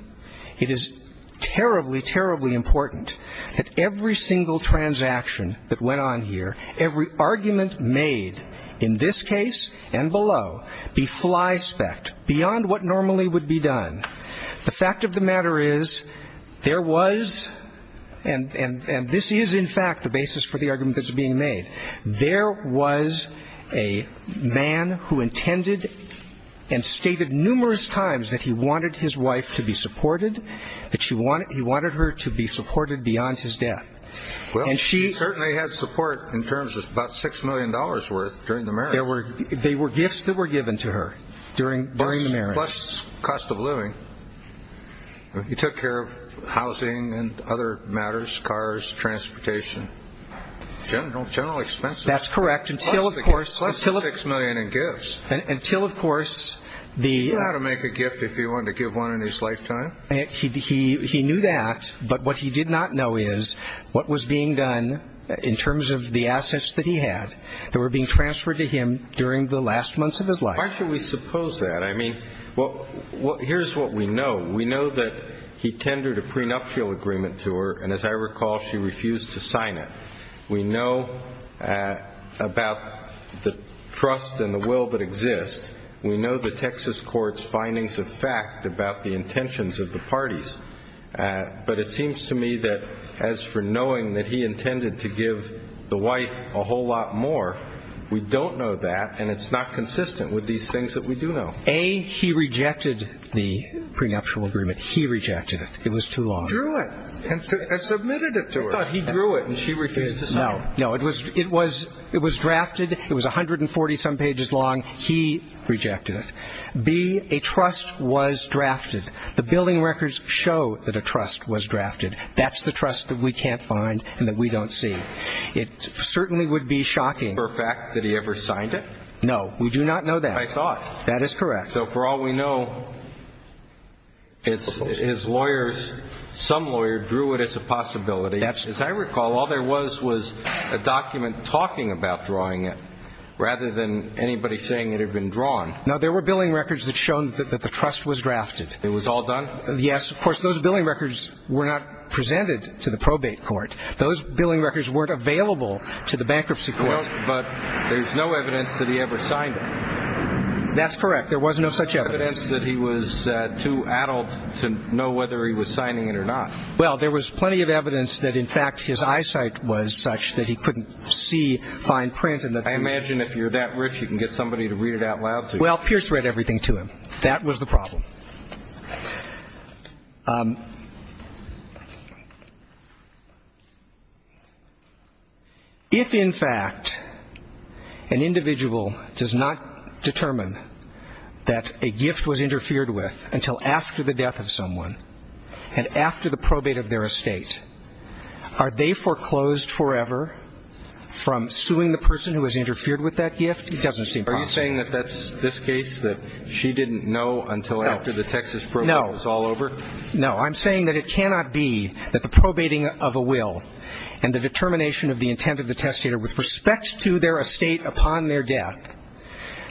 it is terribly, terribly important that every single transaction that went on here, every argument made in this case and below, be fly-spec'd, beyond what normally would be done. The fact of the matter is there was, and this is in fact the basis for the argument that's being made, there was a man who intended and stated numerous times that he wanted his wife to be supported, that he wanted her to be supported beyond his death. Well, she certainly had support in terms of about $6 million worth during the marriage. They were gifts that were given to her during the marriage. Plus cost of living. He took care of housing and other matters, cars, transportation. General expenses. That's correct. Plus the $6 million in gifts. Until, of course, the... He knew how to make a gift if he wanted to give one in his lifetime. He knew that, but what he did not know is what was being done in terms of the assets that he had that were being transferred to him during the last months of his life. Why should we suppose that? I mean, here's what we know. We know that he tendered a prenuptial agreement to her, and as I recall, she refused to sign it. We know about the trust and the will that exist. We know the Texas court's findings of fact about the intentions of the parties. But it seems to me that as for knowing that he intended to give the wife a whole lot more, we don't know that, and it's not consistent with these things that we do know. A, he rejected the prenuptial agreement. He rejected it. It was too long. He drew it and submitted it to her. I thought he drew it and she refused to sign it. No, no. It was drafted. It was 140-some pages long. He rejected it. B, a trust was drafted. The billing records show that a trust was drafted. That's the trust that we can't find and that we don't see. It certainly would be shocking. For a fact that he ever signed it? No, we do not know that. I thought. That is correct. So for all we know, his lawyers, some lawyer, drew it as a possibility. As I recall, all there was was a document talking about drawing it rather than anybody saying it had been drawn. No, there were billing records that showed that the trust was drafted. It was all done? Yes. Of course, those billing records were not presented to the probate court. Those billing records weren't available to the bankruptcy court. But there's no evidence that he ever signed it. That's correct. There was no such evidence. There was no evidence that he was too adult to know whether he was signing it or not. Well, there was plenty of evidence that, in fact, his eyesight was such that he couldn't see fine print. I imagine if you're that rich, you can get somebody to read it out loud to you. Well, Pierce read everything to him. That was the problem. If, in fact, an individual does not determine that a gift was interfered with until after the death of someone and after the probate of their estate, are they foreclosed forever from suing the person who has interfered with that gift? It doesn't seem possible. Are you saying that that's this case, that she didn't know until after the death of someone? After the Texas probate was all over? No. No. I'm saying that it cannot be that the probating of a will and the determination of the intent of the testator with respect to their estate upon their death,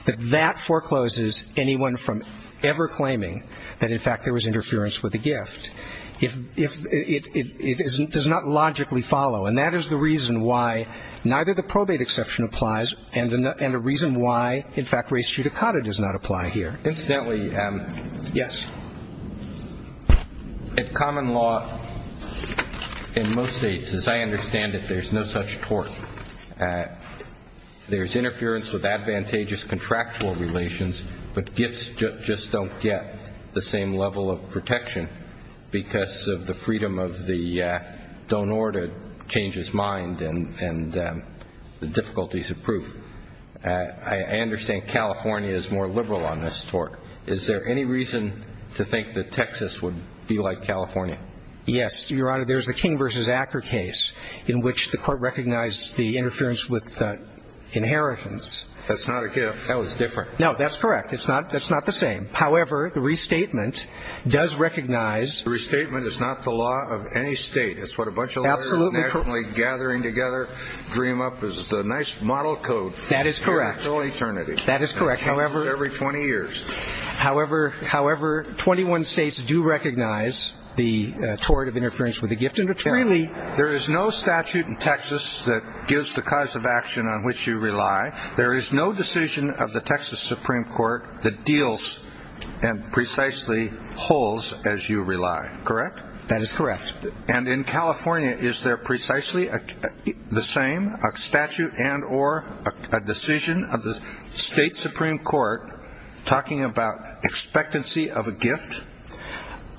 that that forecloses anyone from ever claiming that, in fact, there was interference with the gift. It does not logically follow. And that is the reason why neither the probate exception applies and the reason why, in fact, res judicata does not apply here. Incidentally, yes, in common law in most states, as I understand it, there's no such tort. There's interference with advantageous contractual relations, but gifts just don't get the same level of protection because of the freedom of the donor to change his mind and the difficulties of proof. I understand California is more liberal on this tort. Is there any reason to think that Texas would be like California? Yes, Your Honor. There's the King v. Acker case in which the court recognized the interference with inheritance. That's not a gift. That was different. No, that's correct. That's not the same. However, the restatement does recognize The restatement is not the law of any state. Absolutely. That is correct. That is correct. However, 21 states do recognize the tort of interference with a gift. That is correct. In California, is there precisely the same statute and or a decision of the state supreme court talking about expectancy of a gift?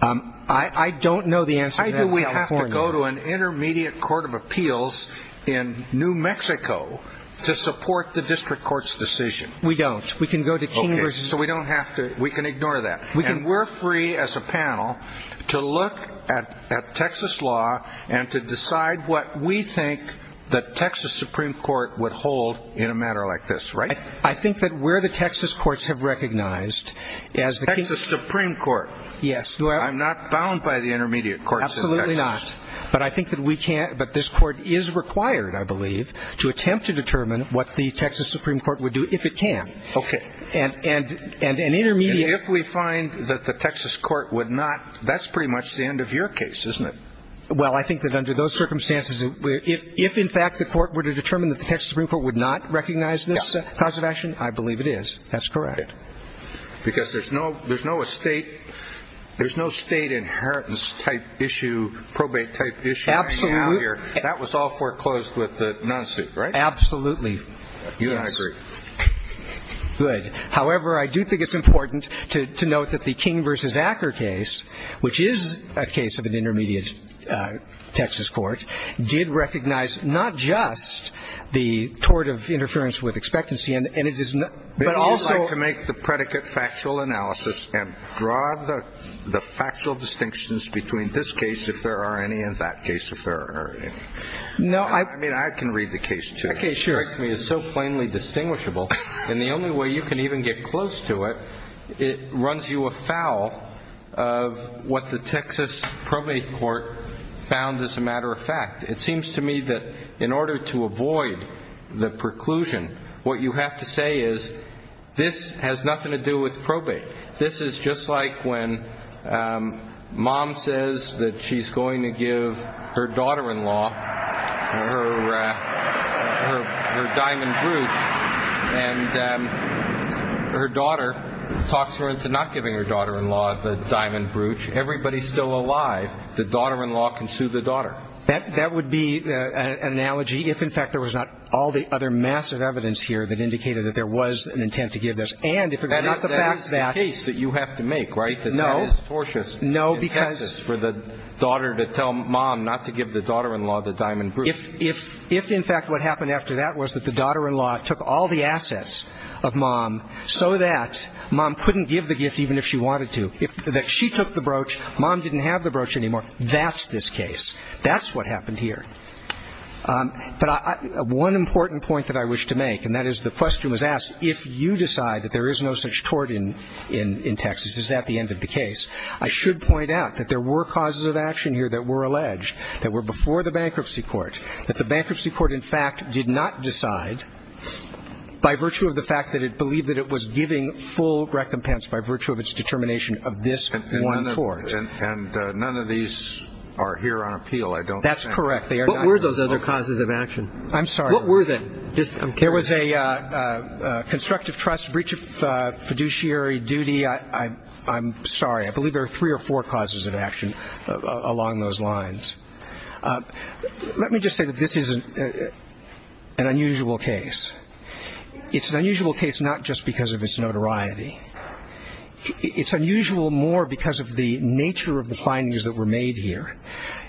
I don't know the answer to that in California. Why do we have to go to an intermediate court of appeals in New Mexico to support the district court's decision? We don't. We can go to King v. So we don't have to. We can ignore that. And we're free as a panel to look at Texas law and to decide what we think the Texas Supreme Court would hold in a matter like this. Right? I think that where the Texas courts have recognized as the Texas Supreme Court. Yes. I'm not bound by the intermediate courts in Texas. Absolutely not. But I think that we can't. But this court is required, I believe, to attempt to determine what the Texas Supreme Court would do if it can. Okay. And an intermediate If we find that the Texas court would not, that's pretty much the end of your case, isn't it? Well, I think that under those circumstances, if in fact the court were to determine that the Texas Supreme Court would not recognize this cause of action, I believe it is. That's correct. Because there's no state inheritance type issue, probate type issue. Absolutely. That was all foreclosed with the non-suit, right? Absolutely. You and I agree. Good. However, I do think it's important to note that the King v. Acker case, which is a case of an intermediate Texas court, did recognize not just the tort of interference with expectancy and it is not, but also It is like to make the predicate factual analysis and draw the factual distinctions between this case, if there are any, and that case, if there are any. No, I I mean, I can read the case, too. Okay. Sure. And the only way you can even get close to it, it runs you afoul of what the Texas probate court found as a matter of fact. It seems to me that in order to avoid the preclusion, what you have to say is, this has nothing to do with probate. This is just like when mom says that she's going to give her daughter-in-law her diamond brooch and her daughter talks her into not giving her daughter-in-law the diamond brooch. Everybody's still alive. The daughter-in-law can sue the daughter. That would be an analogy if, in fact, there was not all the other massive evidence here that indicated that there was an intent to give this. And if it were not the fact that That is the case that you have to make, right? No. That that is tortious in Texas for the daughter to tell mom not to give the daughter-in-law the diamond brooch. If, in fact, what happened after that was that the daughter-in-law took all the assets of mom so that mom couldn't give the gift even if she wanted to, that she took the brooch, mom didn't have the brooch anymore, that's this case. That's what happened here. But one important point that I wish to make, and that is the question was asked, if you decide that there is no such tort in Texas, is that the end of the case? I should point out that there were causes of action here that were alleged that were before the bankruptcy court, that the bankruptcy court, in fact, did not decide by virtue of the fact that it believed that it was giving full recompense by virtue of its determination of this one court. And none of these are here on appeal, I don't think. That's correct. What were those other causes of action? I'm sorry. What were they? There was a constructive trust, breach of fiduciary duty. I'm sorry. I believe there were three or four causes of action along those lines. Let me just say that this is an unusual case. It's an unusual case not just because of its notoriety. It's unusual more because of the nature of the findings that were made here.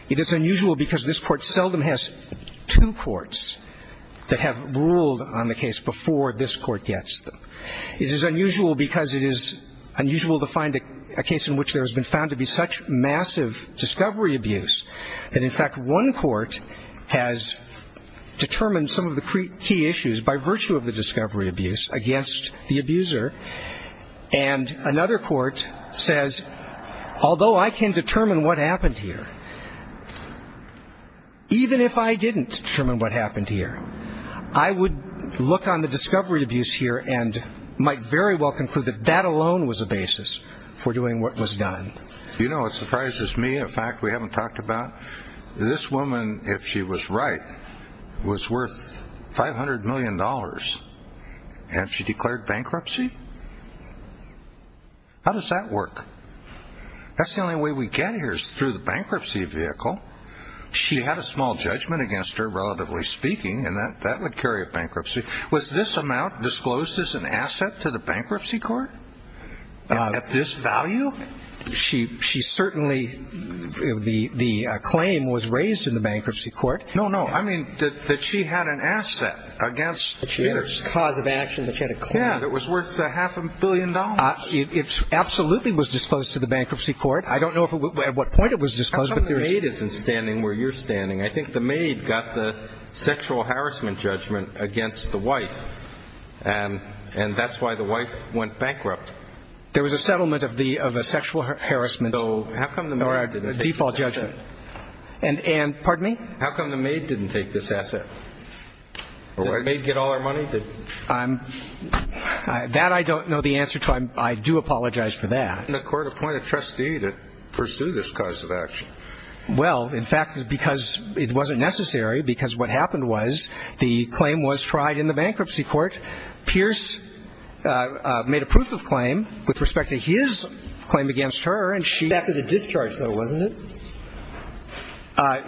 It is unusual because this court seldom has two courts that have ruled on the case before this court gets them. It is unusual because it is unusual to find a case in which there has been found to be such massive discovery abuse that, in fact, one court has determined some of the key issues by virtue of the discovery abuse against the abuser, and another court says, although I can determine what happened here, even if I didn't determine what happened here, I would look on the discovery abuse here and might very well conclude that that alone was a basis for doing what was done. You know what surprises me, a fact we haven't talked about? This woman, if she was right, was worth $500 million. Had she declared bankruptcy? How does that work? That's the only way we get here is through the bankruptcy vehicle. She had a small judgment against her, relatively speaking, and that would carry a bankruptcy. Was this amount disclosed as an asset to the bankruptcy court at this value? She certainly, the claim was raised in the bankruptcy court. No, no, I mean that she had an asset against the abuser. She had a cause of action, but she had a claim. Yeah, it was worth half a billion dollars. It absolutely was disclosed to the bankruptcy court. I don't know at what point it was disclosed. How come the maid isn't standing where you're standing? I think the maid got the sexual harassment judgment against the wife, and that's why the wife went bankrupt. There was a settlement of a sexual harassment or a default judgment. And, pardon me? How come the maid didn't take this asset? Did the maid get all our money? That I don't know the answer to. I do apologize for that. Why didn't the court appoint a trustee to pursue this cause of action? Well, in fact, because it wasn't necessary, because what happened was the claim was tried in the bankruptcy court. Pierce made a proof of claim with respect to his claim against her. It was after the discharge, though, wasn't it?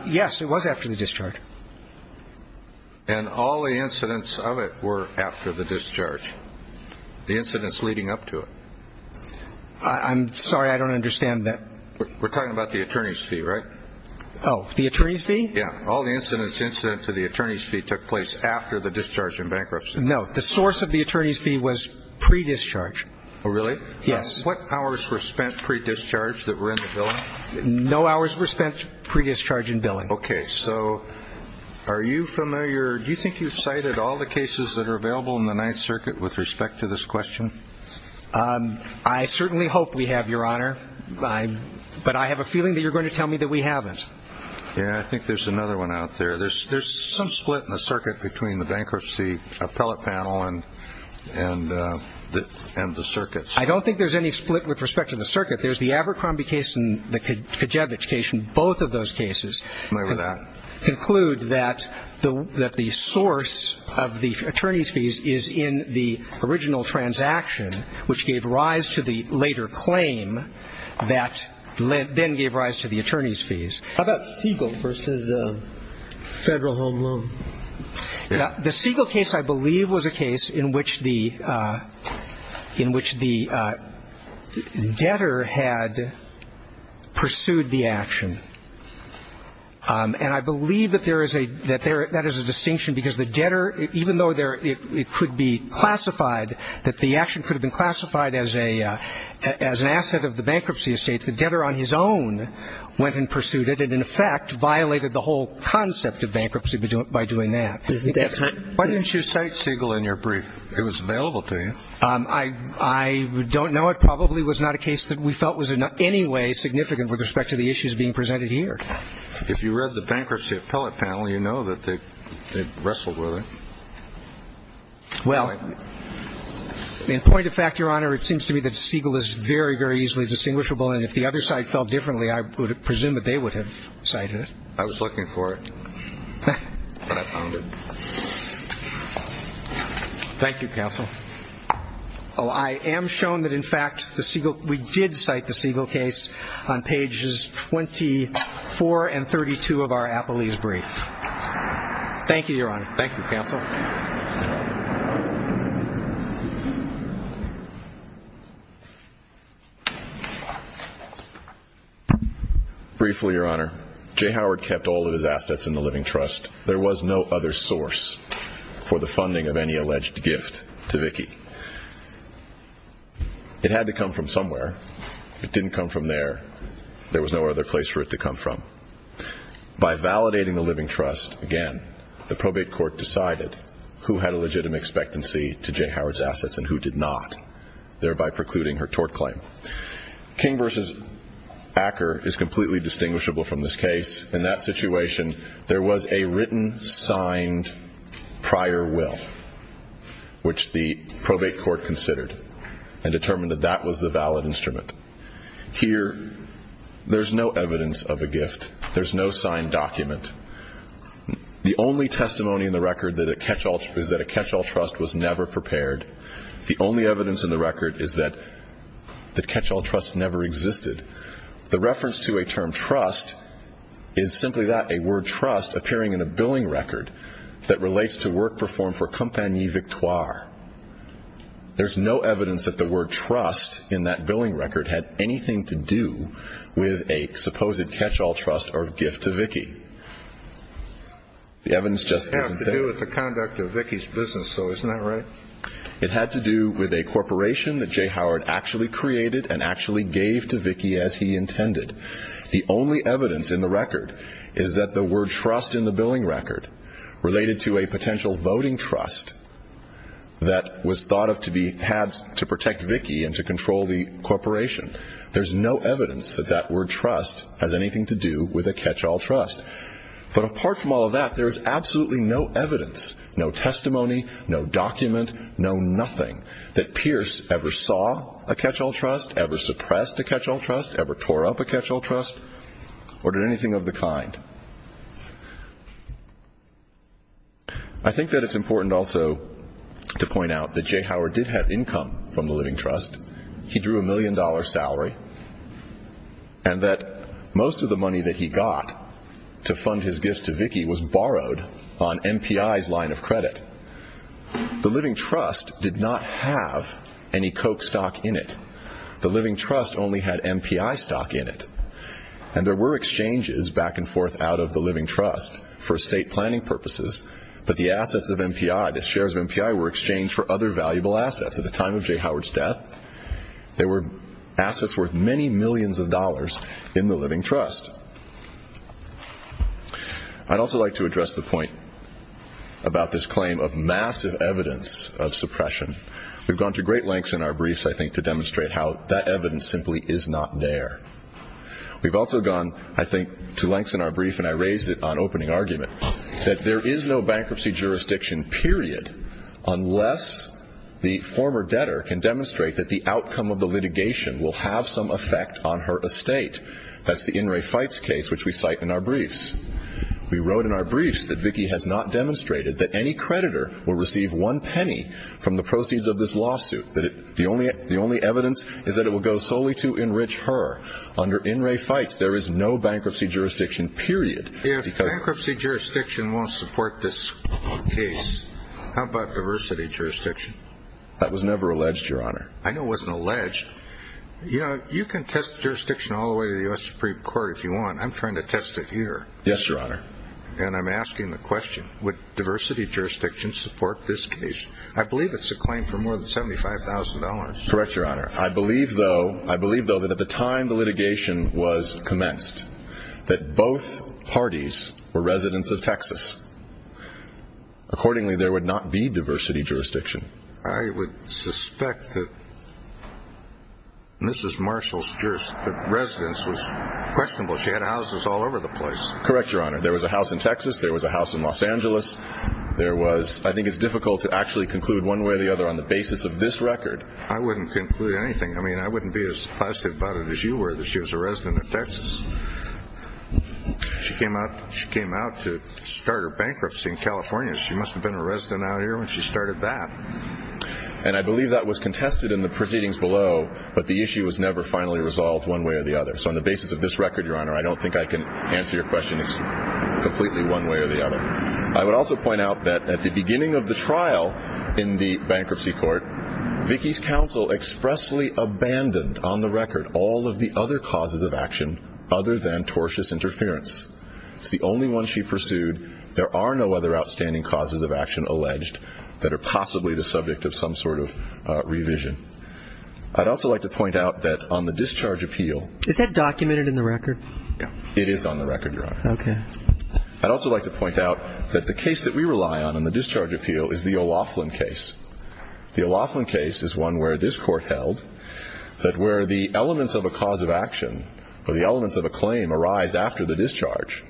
Yes, it was after the discharge. And all the incidents of it were after the discharge, the incidents leading up to it. I'm sorry, I don't understand that. We're talking about the attorney's fee, right? Oh, the attorney's fee? Yeah, all the incidents incident to the attorney's fee took place after the discharge in bankruptcy. No, the source of the attorney's fee was pre-discharge. Oh, really? Yes. And what hours were spent pre-discharge that were in the billing? No hours were spent pre-discharge in billing. Okay, so are you familiar? Do you think you've cited all the cases that are available in the Ninth Circuit with respect to this question? I certainly hope we have, Your Honor, but I have a feeling that you're going to tell me that we haven't. Yeah, I think there's another one out there. There's some split in the circuit between the bankruptcy appellate panel and the circuits. I don't think there's any split with respect to the circuit. There's the Abercrombie case and the Kajewicz case, and both of those cases conclude that the source of the attorney's fees is in the original transaction, which gave rise to the later claim that then gave rise to the attorney's fees. How about Siegel v. Federal Home Loan? The Siegel case, I believe, was a case in which the debtor had pursued the action. And I believe that that is a distinction because the debtor, even though it could be classified, that the action could have been classified as an asset of the bankruptcy estate, the debtor on his own went and pursued it and, in effect, violated the whole concept of bankruptcy by doing that. Isn't that right? Why didn't you cite Siegel in your brief? It was available to you. I don't know. It probably was not a case that we felt was in any way significant with respect to the issues being presented here. If you read the bankruptcy appellate panel, you know that they wrestled with it. Well, in point of fact, Your Honor, it seems to me that Siegel is very, very easily distinguishable, and if the other side felt differently, I would presume that they would have cited it. I was looking for it, but I found it. Thank you, counsel. Oh, I am shown that, in fact, we did cite the Siegel case on pages 24 and 32 of our appellate brief. Thank you, Your Honor. Thank you, counsel. Briefly, Your Honor, J. Howard kept all of his assets in the Living Trust. There was no other source for the funding of any alleged gift to Vicki. It had to come from somewhere. If it didn't come from there, there was no other place for it to come from. By validating the Living Trust, again, the probate court decided who had a legitimate expectancy to J. Howard's assets and who did not, thereby precluding her tort claim. King v. Acker is completely distinguishable from this case. In that situation, there was a written, signed prior will, which the probate court considered and determined that that was the valid instrument. Here, there's no evidence of a gift. There's no signed document. The only testimony in the record is that a catch-all trust was never prepared. The only evidence in the record is that the catch-all trust never existed. The reference to a term trust is simply that, a word trust appearing in a billing record that relates to work performed for Compagnie Victoire. There's no evidence that the word trust in that billing record had anything to do with a supposed catch-all trust or gift to Vicki. The evidence just isn't there. It had to do with the conduct of Vicki's business, though. Isn't that right? It had to do with a corporation that J. Howard actually created and actually gave to Vicki as he intended. The only evidence in the record is that the word trust in the billing record, related to a potential voting trust that was thought of to be had to protect Vicki and to control the corporation. There's no evidence that that word trust has anything to do with a catch-all trust. But apart from all of that, there is absolutely no evidence, no testimony, no document, no nothing, that Pierce ever saw a catch-all trust, ever suppressed a catch-all trust, ever tore up a catch-all trust, or did anything of the kind. I think that it's important also to point out that J. Howard did have income from the Living Trust. He drew a million-dollar salary. And that most of the money that he got to fund his gifts to Vicki was borrowed on MPI's line of credit. The Living Trust did not have any Koch stock in it. The Living Trust only had MPI stock in it. And there were exchanges back and forth out of the Living Trust for estate planning purposes, but the assets of MPI, the shares of MPI were exchanged for other valuable assets. At the time of J. Howard's death, there were assets worth many millions of dollars in the Living Trust. I'd also like to address the point about this claim of massive evidence of suppression. We've gone to great lengths in our briefs, I think, to demonstrate how that evidence simply is not there. We've also gone, I think, to lengths in our brief, and I raised it on opening argument, that there is no bankruptcy jurisdiction, period, unless the former debtor can demonstrate that the outcome of the litigation will have some effect on her estate. That's the In re Fights case, which we cite in our briefs. We wrote in our briefs that Vicki has not demonstrated that any creditor will receive one penny from the proceeds of this lawsuit, that the only evidence is that it will go solely to enrich her. Under In re Fights, there is no bankruptcy jurisdiction, period. If bankruptcy jurisdiction won't support this case, how about diversity jurisdiction? That was never alleged, Your Honor. I know it wasn't alleged. You know, you can test jurisdiction all the way to the U.S. Supreme Court if you want. I'm trying to test it here. Yes, Your Honor. And I'm asking the question, would diversity jurisdiction support this case? I believe it's a claim for more than $75,000. Correct, Your Honor. I believe, though, that at the time the litigation was commenced, that both parties were residents of Texas. Accordingly, there would not be diversity jurisdiction. I would suspect that Mrs. Marshall's residence was questionable. She had houses all over the place. Correct, Your Honor. There was a house in Texas. There was a house in Los Angeles. I think it's difficult to actually conclude one way or the other on the basis of this record. I wouldn't conclude anything. I mean, I wouldn't be as positive about it as you were that she was a resident of Texas. She came out to start her bankruptcy in California. She must have been a resident out here when she started that. And I believe that was contested in the proceedings below, but the issue was never finally resolved one way or the other. So on the basis of this record, Your Honor, I don't think I can answer your question completely one way or the other. I would also point out that at the beginning of the trial in the bankruptcy court, Vicki's counsel expressly abandoned on the record all of the other causes of action other than tortious interference. It's the only one she pursued. There are no other outstanding causes of action alleged that are possibly the subject of some sort of revision. I'd also like to point out that on the discharge appeal. Is that documented in the record? It is on the record, Your Honor. Okay. I'd also like to point out that the case that we rely on in the discharge appeal is the O'Loughlin case. The O'Loughlin case is one where this court held that where the elements of a cause of action or the elements of a claim arise after the discharge,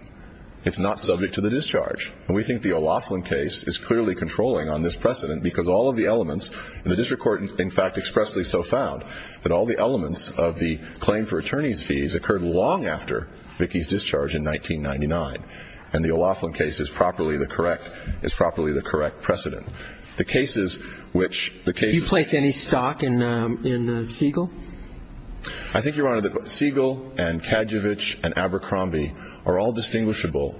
it's not subject to the discharge. And we think the O'Loughlin case is clearly controlling on this precedent because all of the elements in the district court in fact expressly so found that all the elements of the claim for attorney's fees occurred long after Vicki's discharge in 1999. And the O'Loughlin case is properly the correct precedent. The cases which the cases. Do you place any stock in Siegel? I think, Your Honor, that Siegel and Kadjovich and Abercrombie are all distinguishable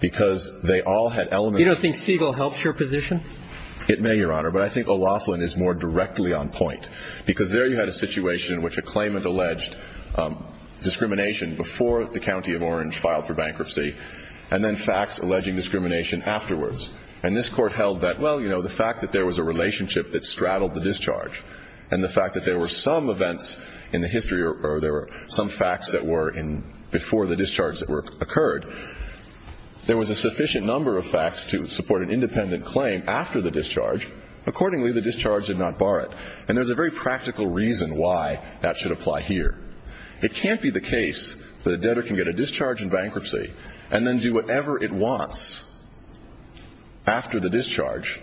because they all had elements. You don't think Siegel helped your position? It may, Your Honor, but I think O'Loughlin is more directly on point because there you had a situation in which a claimant alleged discrimination before the county of Orange filed for bankruptcy and then facts alleging discrimination afterwards. And this court held that, well, you know, the fact that there was a relationship that straddled the discharge and the fact that there were some events in the history or there were some facts that were in before the discharge that occurred, there was a sufficient number of facts to support an independent claim after the discharge. Accordingly, the discharge did not bar it. And there's a very practical reason why that should apply here. It can't be the case that a debtor can get a discharge in bankruptcy and then do whatever it wants after the discharge,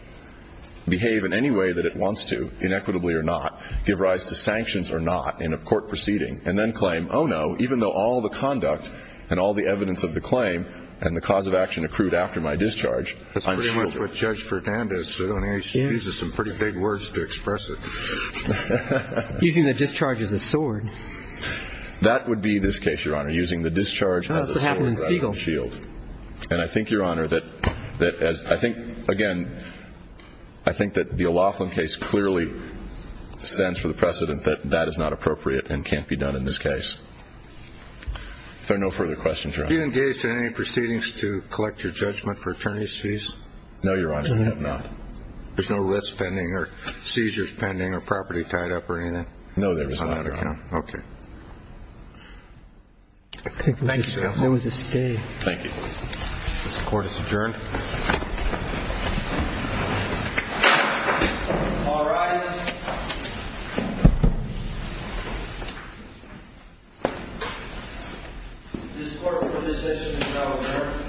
behave in any way that it wants to, inequitably or not, give rise to sanctions or not in a court proceeding, and then claim, oh, no, even though all the conduct and all the evidence of the claim and the cause of action accrued after my discharge, I'm shielded. That's pretty much what Judge Verdanda said on HCPs. It's some pretty big words to express it. Using the discharge as a sword. That would be this case, Your Honor, using the discharge as a sword rather than shield. That's what happened in Siegel. And I think, Your Honor, that I think, again, I think that the O'Loughlin case clearly stands for the precedent that that is not appropriate and can't be done in this case. If there are no further questions, Your Honor. Did you engage in any proceedings to collect your judgment for attorney's fees? No, Your Honor, I have not. There's no risk pending or seizures pending or property tied up or anything? No, there is not, Your Honor. Okay. Thank you, counsel. There was a stay. Thank you. Court is adjourned. All rise. This court's decision is now adjourned. Thank you.